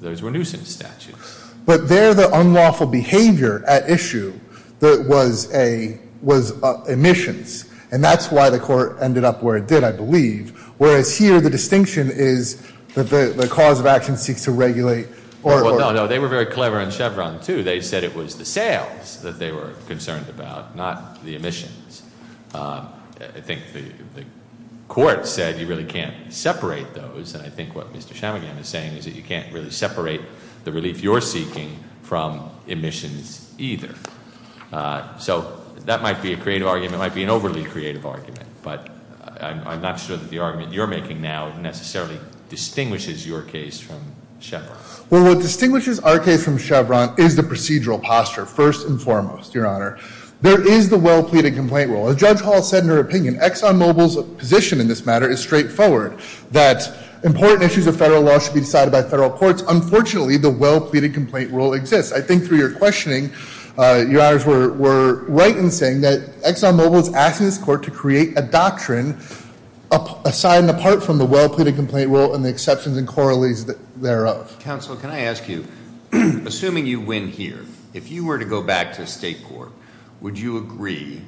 Those were nuisance statutes. But there, the unlawful behavior at issue was emissions. And that's why the court ended up where it did, I believe. Whereas here, the distinction is that the cause of action seeks to regulate. Well, no, no, they were very clever in Chevron too. They said it was the sales that they were concerned about, not the emissions. I think the court said you really can't separate those. And I think what Mr. Chamagian is saying is that you can't really separate the relief you're seeking from emissions either. So that might be a creative argument, might be an overly creative argument. But I'm not sure that the argument you're making now necessarily distinguishes your case from Chevron. Well, what distinguishes our case from Chevron is the procedural posture, first and foremost, Your Honor. There is the well-pleaded complaint rule. As Judge Hall said in her opinion, Exxon Mobil's position in this matter is straightforward. That important issues of federal law should be decided by federal courts. Unfortunately, the well-pleaded complaint rule exists. I think through your questioning, your honors were right in saying that Exxon Mobil is asking this court to create a doctrine aside and apart from the well-pleaded complaint rule and the exceptions and corollaries thereof. Council, can I ask you, assuming you win here, if you were to go back to state court, would you agree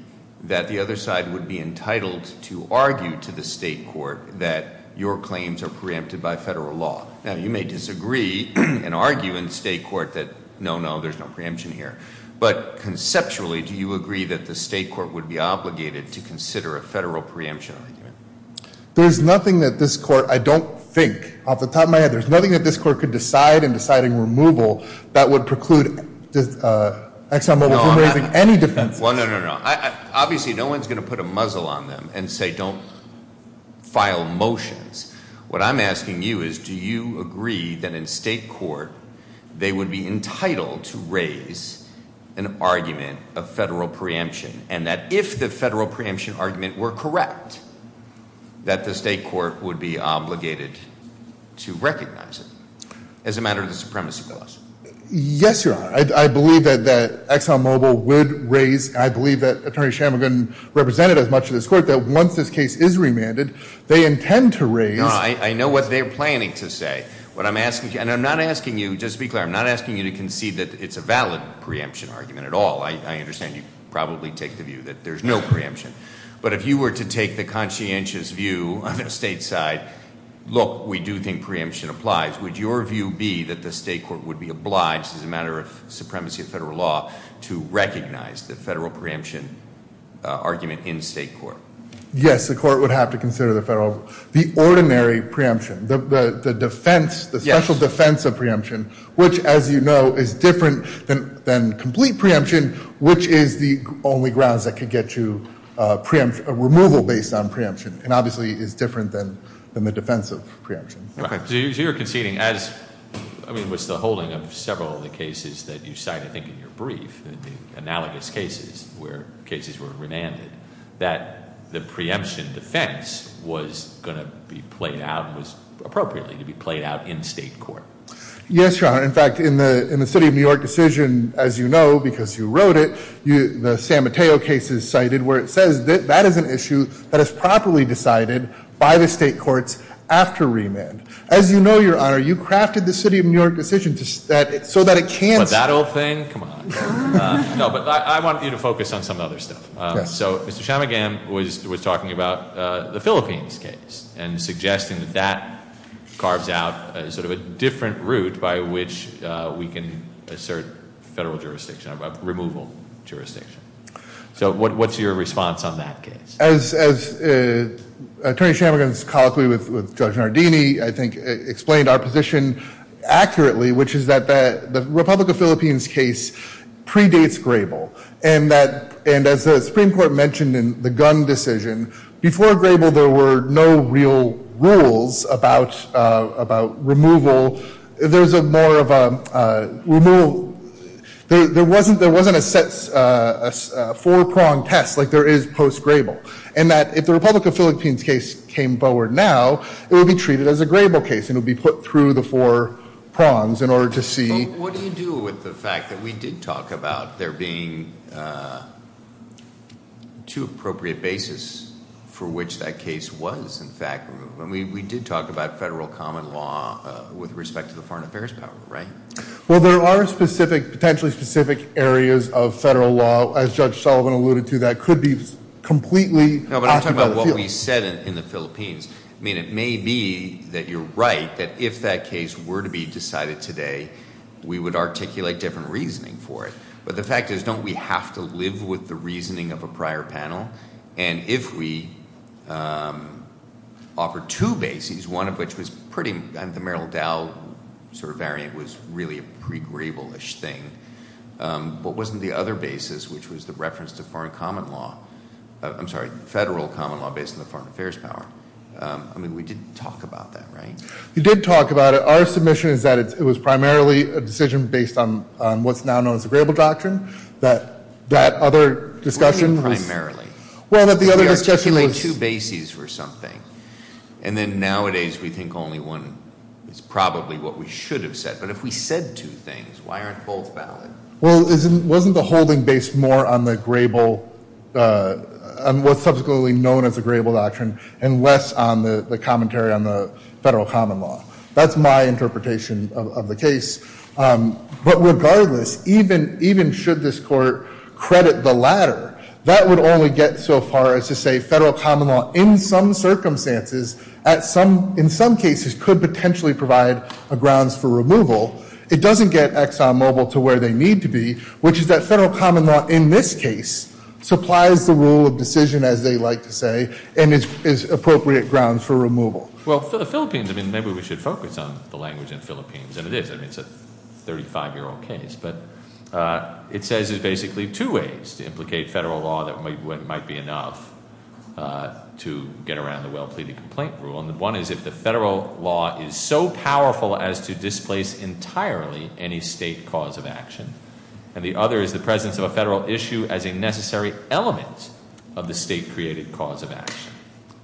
that the other side would be entitled to argue to the state court that your claims are preempted by federal law? Now, you may disagree and argue in state court that no, no, there's no preemption here. But conceptually, do you agree that the state court would be obligated to consider a federal preemption? There's nothing that this court, I don't think, off the top of my head, there's nothing that this court could decide in deciding removal that would preclude Exxon Mobil from raising any defenses. Well, no, no, no. Obviously, no one's going to put a muzzle on them and say don't file motions. What I'm asking you is, do you agree that in state court, they would be entitled to raise an argument of federal preemption? And that if the federal preemption argument were correct, that the state court would be obligated to recognize it. As a matter of the supremacy clause. Yes, your honor. I believe that Exxon Mobil would raise, and I believe that Attorney Shammigan represented as much of this court, that once this case is remanded, they intend to raise- No, I know what they're planning to say. What I'm asking, and I'm not asking you, just to be clear, I'm not asking you to concede that it's a valid preemption argument at all. I understand you probably take the view that there's no preemption. But if you were to take the conscientious view on the state side, look, we do think preemption applies. Would your view be that the state court would be obliged, as a matter of supremacy of federal law, to recognize the federal preemption argument in state court? Yes, the court would have to consider the ordinary preemption, the defense, the special defense of preemption. Which, as you know, is different than complete preemption, which is the only grounds that could get you a removal based on preemption, and obviously is different than the defense of preemption. So you're conceding as, I mean, what's the holding of several of the cases that you cite, I think in your brief, the analogous cases where cases were remanded, that the preemption defense was going to be played out, was appropriately to be played out in state court. Yes, your honor. In fact, in the city of New York decision, as you know, because you wrote it, the San Mateo case is cited, where it says that that is an issue that is properly decided by the state courts after remand. As you know, your honor, you crafted the city of New York decision so that it can't- But that old thing, come on. No, but I want you to focus on some other stuff. So, Mr. Chamagam was talking about the Philippines case and suggesting that that carves out sort of a different route by which we can assert federal jurisdiction about removal. So what's your response on that case? As Attorney Chamagam's colloquy with Judge Nardini, I think, explained our position accurately, which is that the Republic of Philippines case predates Grable. And as the Supreme Court mentioned in the Gunn decision, before Grable, there were no real rules about removal. There wasn't a four-pronged test like there is post-Grable. And that if the Republic of Philippines case came forward now, it would be treated as a Grable case and it would be put through the four prongs in order to see- What do you do with the fact that we did talk about there being two appropriate bases for which that case was, in fact, removed? And we did talk about federal common law with respect to the foreign affairs power, right? Well, there are potentially specific areas of federal law, as Judge Sullivan alluded to, that could be completely- No, but I'm talking about what we said in the Philippines. I mean, it may be that you're right, that if that case were to be decided today, we would articulate different reasoning for it. But the fact is, don't we have to live with the reasoning of a prior panel? And if we offer two bases, one of which was pretty, the Merrill Dow sort of variant was really a pre-Grable-ish thing. But wasn't the other basis, which was the reference to foreign common law, I'm sorry, federal common law based on the foreign affairs power. I mean, we did talk about that, right? You did talk about it. Our submission is that it was primarily a decision based on what's now known as the Grable Doctrine. That other discussion was- Primarily. Well, the other discussion was- We articulate two bases for something. And then nowadays we think only one is probably what we should have said. But if we said two things, why aren't both valid? Well, wasn't the holding based more on the Grable, on what's subsequently known as the Grable Doctrine, and less on the commentary on the federal common law? That's my interpretation of the case. But regardless, even should this court credit the latter, that would only get so far as to say federal common law in some circumstances, in some cases, could potentially provide a grounds for removal. It doesn't get Exxon Mobil to where they need to be, which is that federal common law in this case supplies the rule of decision, as they like to say, and is appropriate grounds for removal. Well, for the Philippines, I mean, maybe we should focus on the language in Philippines, and it is. I mean, it's a 35 year old case. But it says there's basically two ways to implicate federal law that might be enough to get around the well pleaded complaint rule. And one is if the federal law is so powerful as to displace entirely any state cause of action. And the other is the presence of a federal issue as a necessary element of the state created cause of action.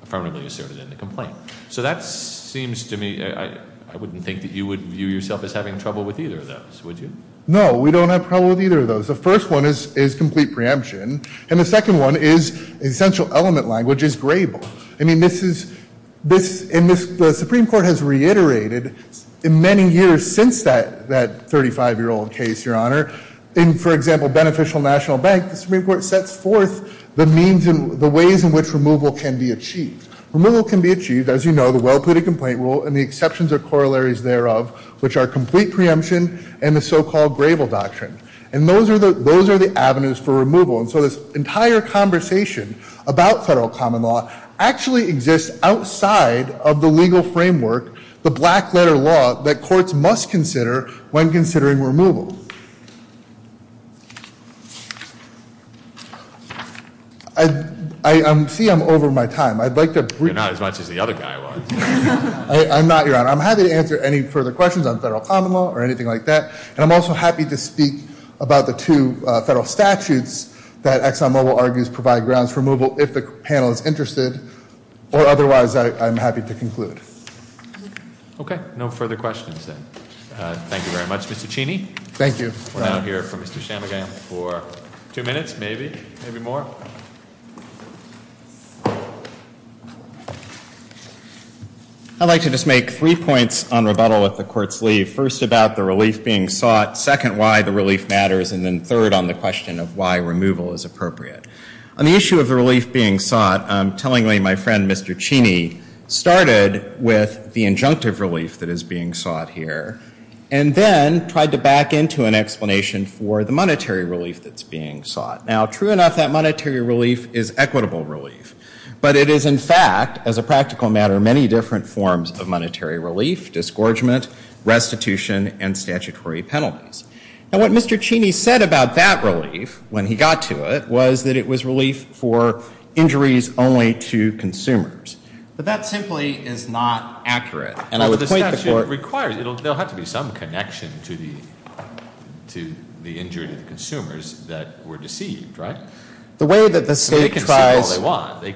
Affirmatively asserted in the complaint. So that seems to me, I wouldn't think that you would view yourself as having trouble with either of those, would you? No, we don't have trouble with either of those. The first one is complete preemption, and the second one is essential element language is grable. I mean, the Supreme Court has reiterated, in many years since that 35 year old case, your honor, in, for example, a beneficial national bank, the Supreme Court sets forth the means and the ways in which removal can be achieved. Removal can be achieved, as you know, the well pleaded complaint rule and the exceptions or corollaries thereof, which are complete preemption and the so-called grable doctrine. And those are the avenues for removal, and so this entire conversation about federal common law actually exists outside of the legal framework, the black letter law that courts must consider when considering removal. I see I'm over my time, I'd like to- You're not as much as the other guy was. I'm not, your honor. I'm happy to answer any further questions on federal common law or anything like that. And I'm also happy to speak about the two federal statutes that Exxon Mobil argues provide grounds for removal if the panel is interested, or otherwise I'm happy to conclude. Okay, no further questions then. Thank you very much, Mr. Cheney. Thank you. We're now here for Mr. Chamigan for two minutes, maybe, maybe more. I'd like to just make three points on rebuttal at the court's leave. First about the relief being sought, second why the relief matters, and then third on the question of why removal is appropriate. On the issue of the relief being sought, tellingly my friend Mr. Cheney started with the injunctive relief that is being sought here. And then tried to back into an explanation for the monetary relief that's being sought. Now true enough, that monetary relief is equitable relief. But it is in fact, as a practical matter, many different forms of monetary relief, disgorgement, restitution, and statutory penalties. And what Mr. Cheney said about that relief, when he got to it, was that it was relief for injuries only to consumers. But that simply is not accurate. And I would point the court- And the statute requires, there'll have to be some connection to the injury to the consumers that were deceived, right? The way that the state tries- They can say all they want, they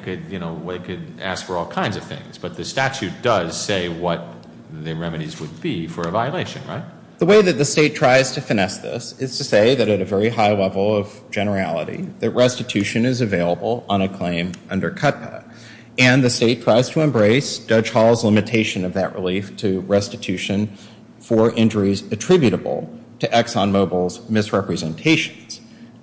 could ask for all kinds of things. But the statute does say what the remedies would be for a violation, right? The way that the state tries to finesse this is to say that at a very high level of generality, that restitution is available on a claim under CUTPA. And the state tries to embrace Judge Hall's limitation of that relief to restitution for injuries attributable to Exxon Mobil's misrepresentations.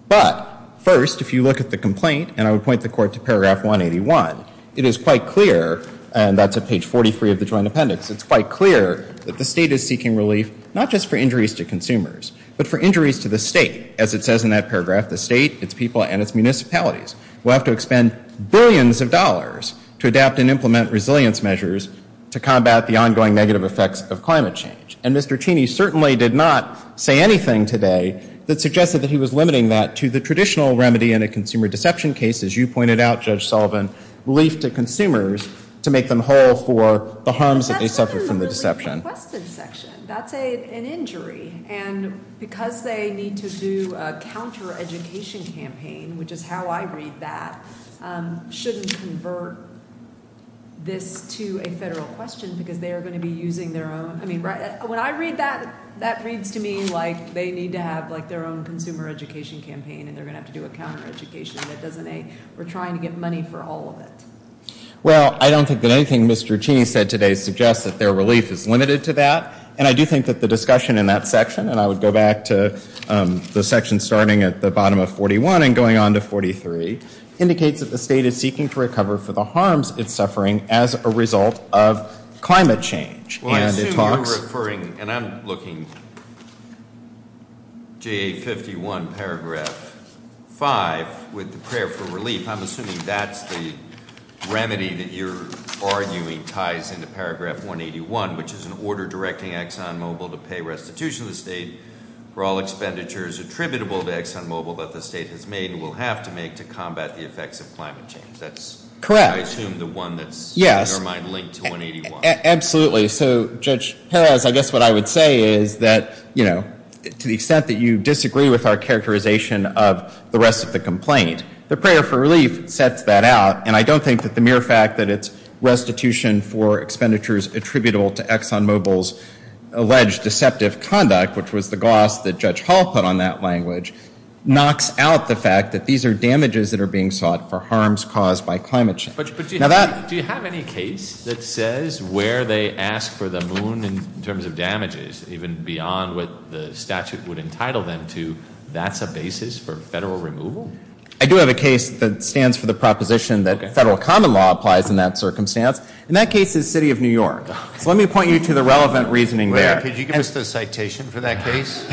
But first, if you look at the complaint, and I would point the court to paragraph 181, it is quite clear, and that's at page 43 of the joint appendix, it's quite clear that the state is seeking relief not just for injuries to consumers, but for injuries to the state, as it says in that paragraph, the state, its people, and its municipalities. We'll have to expend billions of dollars to adapt and implement resilience measures to combat the ongoing negative effects of climate change. And Mr. Cheney certainly did not say anything today that suggested that he was limiting that to the traditional remedy in a consumer deception case, as you pointed out, Judge Sullivan, relief to consumers to make them whole for the harms that they suffered from the deception. That's a requested section, that's an injury, and because they need to do a counter-education campaign, which is how I read that, shouldn't convert this to a federal question because they are going to be using their own. I mean, when I read that, that reads to me like they need to have their own consumer education campaign, and they're going to have to do a counter-education that doesn't, we're trying to get money for all of it. Well, I don't think that anything Mr. Cheney said today suggests that their relief is limited to that, and I do think that the discussion in that section, and I would go back to the section starting at the bottom of 41 and going on to 43, indicates that the state is seeking to recover for the harms it's suffering as a result of climate change. Well, I assume you're referring, and I'm looking, GA51 paragraph 5, with the prayer for relief, I'm assuming that's the remedy that you're arguing ties into paragraph 181, which is an order directing Exxon Mobil to pay restitution to the state for all expenditures attributable to Exxon Mobil that the state has made and will have to make to combat the effects of climate change. That's, I assume, the one that's in our mind linked to 181. Absolutely. So, Judge Perez, I guess what I would say is that, you know, to the extent that you disagree with our characterization of the rest of the complaint, the prayer for relief sets that out, and I don't think that the mere fact that it's restitution for expenditures attributable to Exxon Mobil's alleged deceptive conduct, which was the gloss that Judge Hall put on that language, knocks out the fact that these are damages that are being sought for harms caused by climate change. But do you have any case that says where they ask for the moon in terms of damages, even beyond what the statute would entitle them to, that's a basis for federal removal? I do have a case that stands for the proposition that federal common law applies in that circumstance. And that case is the city of New York. So let me point you to the relevant reasoning there. Could you give us the citation for that case?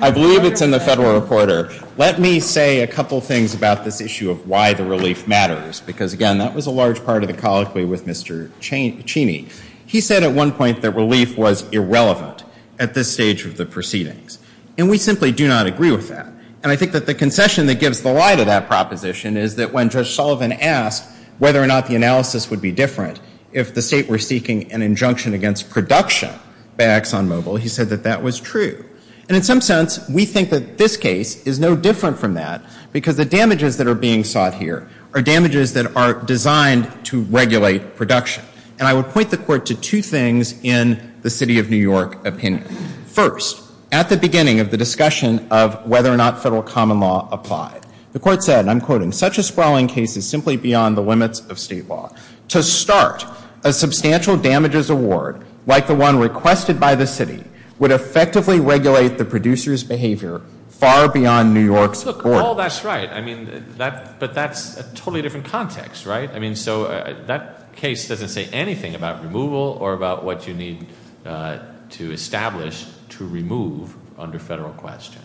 I believe it's in the Federal Reporter. Let me say a couple things about this issue of why the relief matters, because, again, that was a large part of the colloquy with Mr. Cheney. He said at one point that relief was irrelevant at this stage of the proceedings. And we simply do not agree with that. And I think that the concession that gives the lie to that proposition is that when Judge Sullivan asked whether or not the analysis would be different if the state were seeking an injunction against production by Exxon Mobil, he said that that was true. And in some sense, we think that this case is no different from that, because the damages that are being sought here are damages that are designed to regulate production. And I would point the Court to two things in the city of New York opinion. First, at the beginning of the discussion of whether or not federal common law applied, the Court said, and I'm quoting, such a sprawling case is simply beyond the limits of state law. To start, a substantial damages award, like the one requested by the city, would effectively regulate the producer's behavior far beyond New York's borders. Look, Paul, that's right. I mean, but that's a totally different context, right? I mean, so that case doesn't say anything about removal or about what you need to establish to remove under federal question.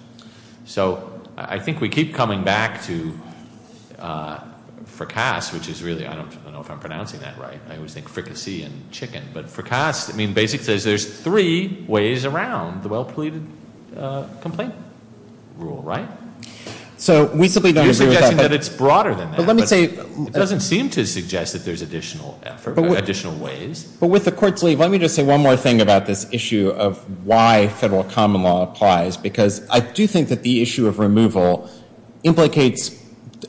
So I think we keep coming back to fracas, which is really, I don't know if I'm pronouncing that right. I always think fricassee and chicken. But fracas, I mean, basically says there's three ways around the well-pleaded complaint rule, right? So we simply don't agree with that. You're suggesting that it's broader than that. But let me say. It doesn't seem to suggest that there's additional effort, additional ways. But with the Court's leave, let me just say one more thing about this issue of why federal common law applies, because I do think that the issue of removal implicates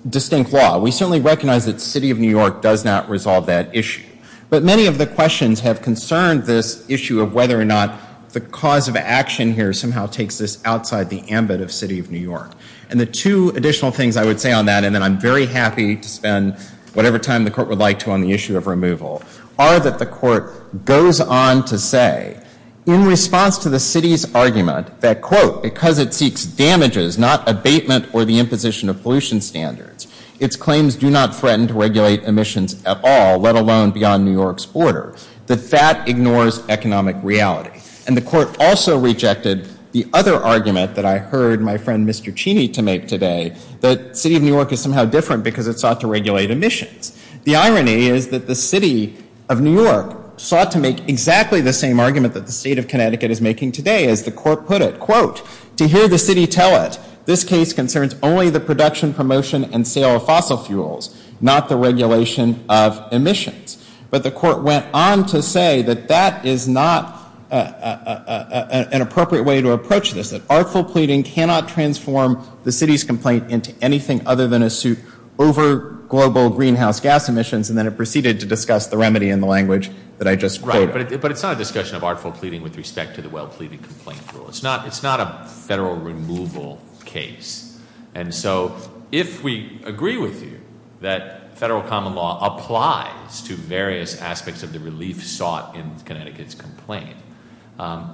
distinct law. We certainly recognize that the City of New York does not resolve that issue. But many of the questions have concerned this issue of whether or not the cause of action here somehow takes this outside the ambit of the City of New York. And the two additional things I would say on that, and then I'm very happy to spend whatever time the Court would like to on the issue of removal, are that the Court goes on to say, in response to the City's argument that, quote, because it seeks damages, not abatement or the imposition of pollution standards, its claims do not threaten to regulate emissions at all, let alone beyond New York's border, that that ignores economic reality. And the Court also rejected the other argument that I heard my friend Mr. Cheney to make today, that the City of New York is somehow different because it sought to regulate emissions. The irony is that the City of New York sought to make exactly the same argument that the State of Connecticut is making today, as the Court put it, quote, to hear the City tell it, this case concerns only the production, promotion, and sale of fossil fuels, not the regulation of emissions. But the Court went on to say that that is not an appropriate way to approach this, that artful pleading cannot transform the City's complaint into anything other than a suit over global greenhouse gas emissions, and then it proceeded to discuss the remedy in the language that I just quoted. Right, but it's not a discussion of artful pleading with respect to the well pleading complaint rule. It's not a Federal removal case. And so if we agree with you that Federal common law applies to various aspects of the relief sought in Connecticut's complaint,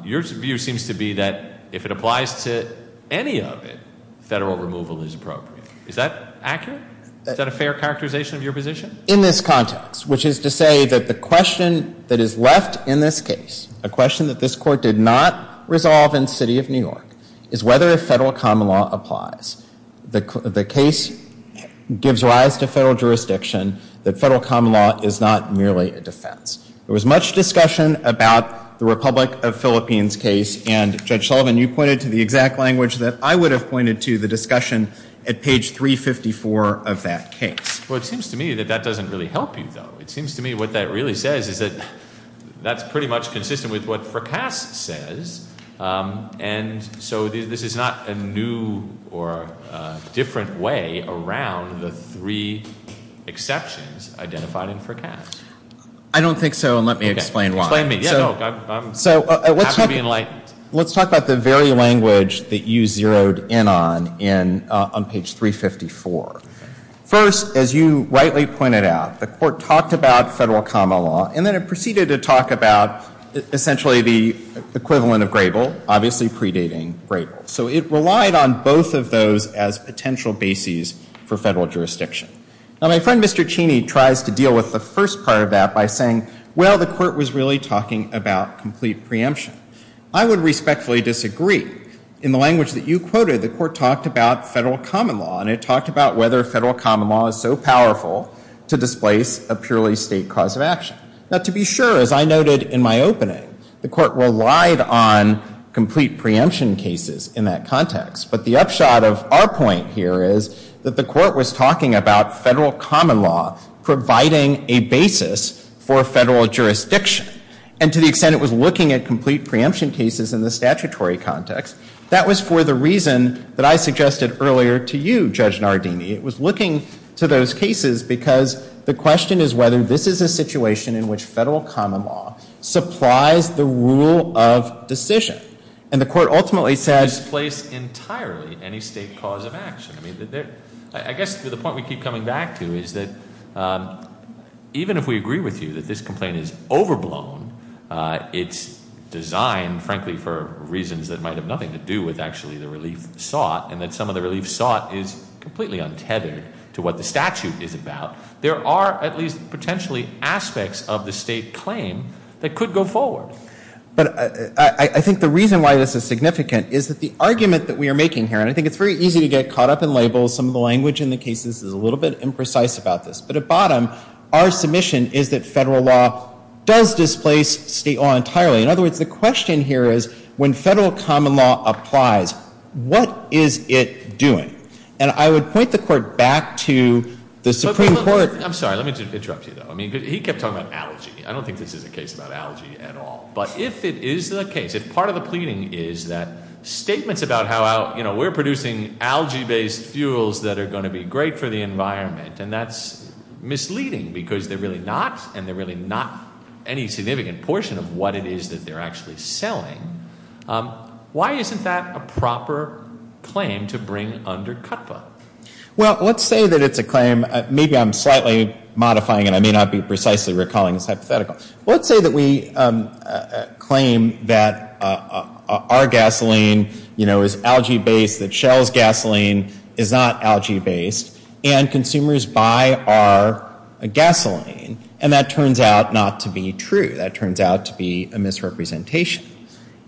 your view seems to be that if it applies to any of it, Federal removal is appropriate. Is that accurate? Is that a fair characterization of your position? In this context, which is to say that the question that is left in this case, a question that this Court did not resolve in the City of New York, is whether Federal common law applies. The case gives rise to Federal jurisdiction that Federal common law is not merely a defense. There was much discussion about the Republic of Philippines case, and Judge Sullivan, you pointed to the exact language that I would have pointed to the discussion at page 354 of that case. Well, it seems to me that that doesn't really help you, though. It seems to me what that really says is that that's pretty much consistent with what Fracas says, and so this is not a new or different way around the three exceptions identified in Fracas. I don't think so, and let me explain why. Explain to me. So let's talk about the very language that you zeroed in on, on page 354. First, as you rightly pointed out, the Court talked about Federal common law, and then it proceeded to talk about essentially the equivalent of Grable, obviously predating Grable. So it relied on both of those as potential bases for Federal jurisdiction. Now, my friend Mr. Cheney tries to deal with the first part of that by saying, well, the Court was really talking about complete preemption. I would respectfully disagree. In the language that you quoted, the Court talked about Federal common law, and it talked about whether Federal common law is so powerful to displace a purely state cause of action. Now, to be sure, as I noted in my opening, the Court relied on complete preemption cases in that context, but the upshot of our point here is that the Court was talking about Federal common law providing a basis for Federal jurisdiction, and to the extent it was looking at complete preemption cases in the statutory context, that was for the reason that I suggested earlier to you, Judge Nardini. It was looking to those cases because the question is whether this is a situation in which Federal common law supplies the rule of decision. And the Court ultimately said- Displace entirely any state cause of action. I guess the point we keep coming back to is that even if we agree with you that this complaint is overblown, it's designed, frankly, for reasons that might have nothing to do with actually the relief sought, and that some of the relief sought is completely untethered to what the statute is about, there are at least potentially aspects of the state claim that could go forward. But I think the reason why this is significant is that the argument that we are making here, and I think it's very easy to get caught up in labels, some of the language in the cases is a little bit imprecise about this, but at bottom, our submission is that Federal law does displace state law entirely. In other words, the question here is when Federal common law applies, what is it doing? And I would point the Court back to the Supreme Court- I'm sorry, let me interrupt you though. He kept talking about algae. I don't think this is a case about algae at all. But if it is the case, if part of the pleading is that statements about how we're producing algae-based fuels that are going to be great for the environment, and that's misleading because they're really not, and they're really not any significant portion of what it is that they're actually selling, why isn't that a proper claim to bring under CUTPA? Well, let's say that it's a claim. Maybe I'm slightly modifying it. I may not be precisely recalling this hypothetical. Let's say that we claim that our gasoline, you know, is algae-based, that Shell's gasoline is not algae-based, and consumers buy our gasoline, and that turns out not to be true. That turns out to be a misrepresentation.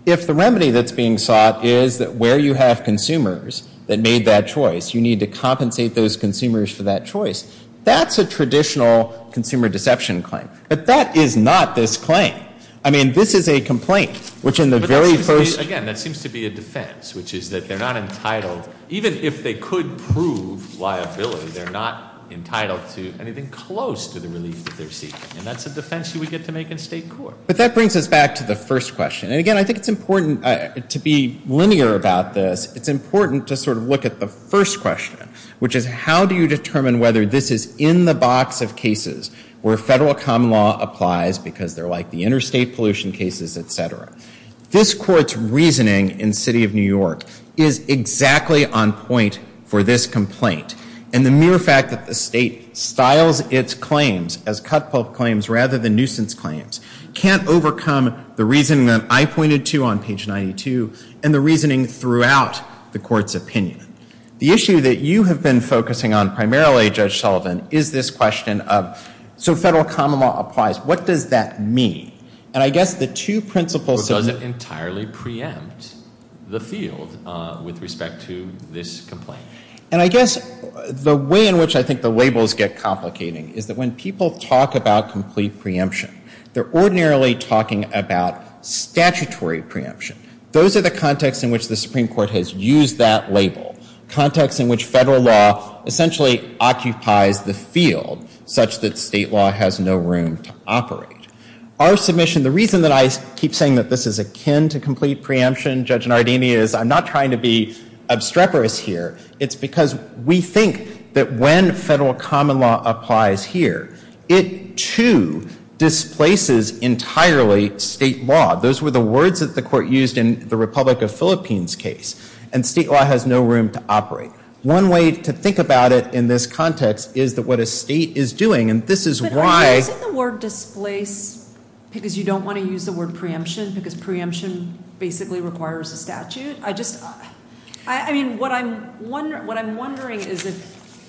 If the remedy that's being sought is that where you have consumers that made that choice, you need to compensate those consumers for that choice, that's a traditional consumer deception claim. But that is not this claim. I mean, this is a complaint, which in the very first ---- Again, that seems to be a defense, which is that they're not entitled, even if they could prove liability, they're not entitled to anything close to the relief that they're seeking. And that's a defense that we get to make in state court. But that brings us back to the first question. And, again, I think it's important to be linear about this. It's important to sort of look at the first question, which is how do you determine whether this is in the box of cases where federal common law applies because they're like the interstate pollution cases, et cetera. This Court's reasoning in the City of New York is exactly on point for this complaint. And the mere fact that the state styles its claims as cut-pulp claims rather than nuisance claims can't overcome the reasoning that I pointed to on page 92 and the reasoning throughout the Court's opinion. The issue that you have been focusing on primarily, Judge Sullivan, is this question of, so federal common law applies, what does that mean? And I guess the two principles ---- Or does it entirely preempt the field with respect to this complaint? And I guess the way in which I think the labels get complicating is that when people talk about complete preemption, they're ordinarily talking about statutory preemption. Those are the contexts in which the Supreme Court has used that label, contexts in which federal law essentially occupies the field such that state law has no room to operate. Our submission, the reason that I keep saying that this is akin to complete preemption, Judge Nardini, is I'm not trying to be obstreperous here. It's because we think that when federal common law applies here, it too displaces entirely state law. Those were the words that the Court used in the Republic of Philippines case. And state law has no room to operate. One way to think about it in this context is that what a state is doing, and this is why ---- But aren't you saying the word displace because you don't want to use the word preemption because preemption basically requires a statute? I mean, what I'm wondering is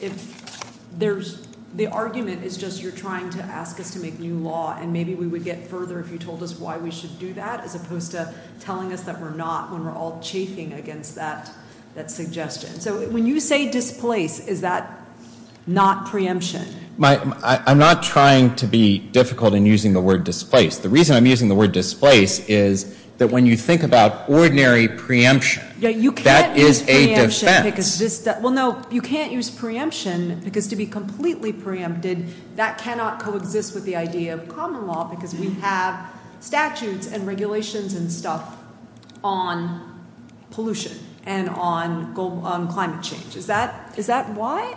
if the argument is just you're trying to ask us to make new law and maybe we would get further if you told us why we should do that as opposed to telling us that we're not when we're all chafing against that suggestion. So when you say displace, is that not preemption? I'm not trying to be difficult in using the word displace. The reason I'm using the word displace is that when you think about ordinary preemption, that is a defense. You can't use preemption because to be completely preempted, that cannot coexist with the idea of common law because we have statutes and regulations and stuff on pollution and on climate change. Is that why?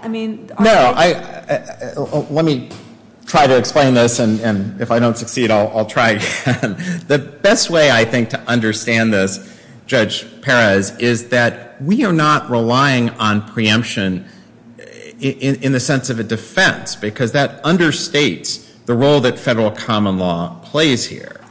Let me try to explain this, and if I don't succeed, I'll try again. The best way I think to understand this, Judge Perez, is that we are not relying on preemption in the sense of a defense because that understates the role that federal common law plays here.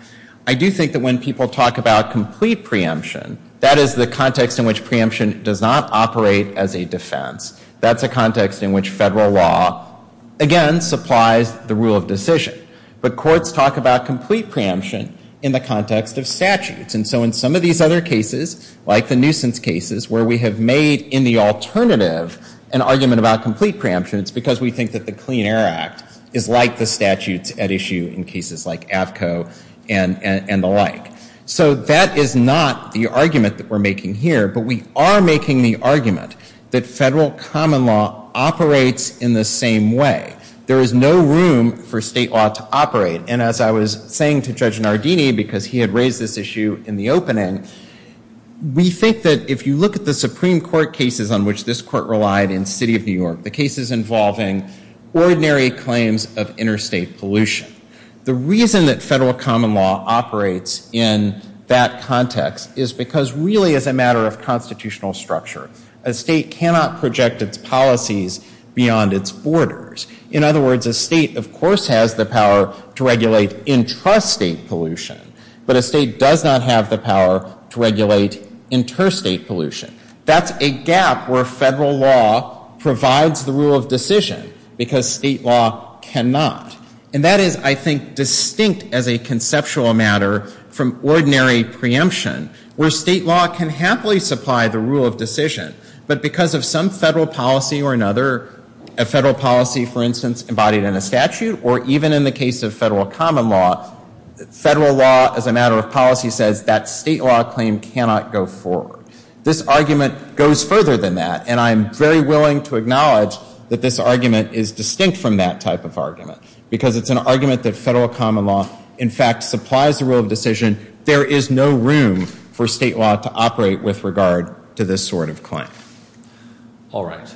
I do think that when people talk about complete preemption, that is the context in which preemption does not operate as a defense. That's a context in which federal law, again, supplies the rule of decision. But courts talk about complete preemption in the context of statutes. And so in some of these other cases, like the nuisance cases, where we have made in the alternative an argument about complete preemption, it's because we think that the Clean Air Act is like the statutes at issue in cases like AFCO and the like. So that is not the argument that we're making here, but we are making the argument that federal common law operates in the same way. There is no room for state law to operate. And as I was saying to Judge Nardini, because he had raised this issue in the opening, we think that if you look at the Supreme Court cases on which this court relied in the city of New York, the cases involving ordinary claims of interstate pollution, the reason that federal common law operates in that context is because really it's a matter of constitutional structure. A state cannot project its policies beyond its borders. In other words, a state, of course, has the power to regulate intrastate pollution, but a state does not have the power to regulate interstate pollution. That's a gap where federal law provides the rule of decision, because state law cannot. And that is, I think, distinct as a conceptual matter from ordinary preemption, where state law can happily supply the rule of decision, but because of some federal policy or another, a federal policy, for instance, embodied in a statute or even in the case of federal common law, federal law as a matter of policy says that state law claim cannot go forward. This argument goes further than that, and I'm very willing to acknowledge that this argument is distinct from that type of argument. Because it's an argument that federal common law, in fact, supplies the rule of decision. There is no room for state law to operate with regard to this sort of claim. All right.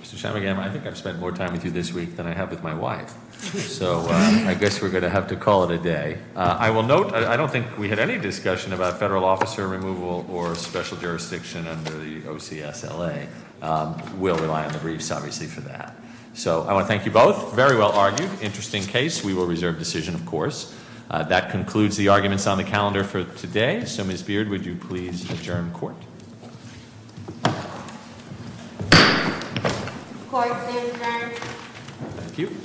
Mr. Chamagam, I think I've spent more time with you this week than I have with my wife. So I guess we're going to have to call it a day. I will note I don't think we had any discussion about federal officer removal or special jurisdiction under the OCSLA. We'll rely on the briefs, obviously, for that. So I want to thank you both. Very well argued. Interesting case. We will reserve decision, of course. That concludes the arguments on the calendar for today. So, Ms. Beard, would you please adjourn court? Court is adjourned. Thank you.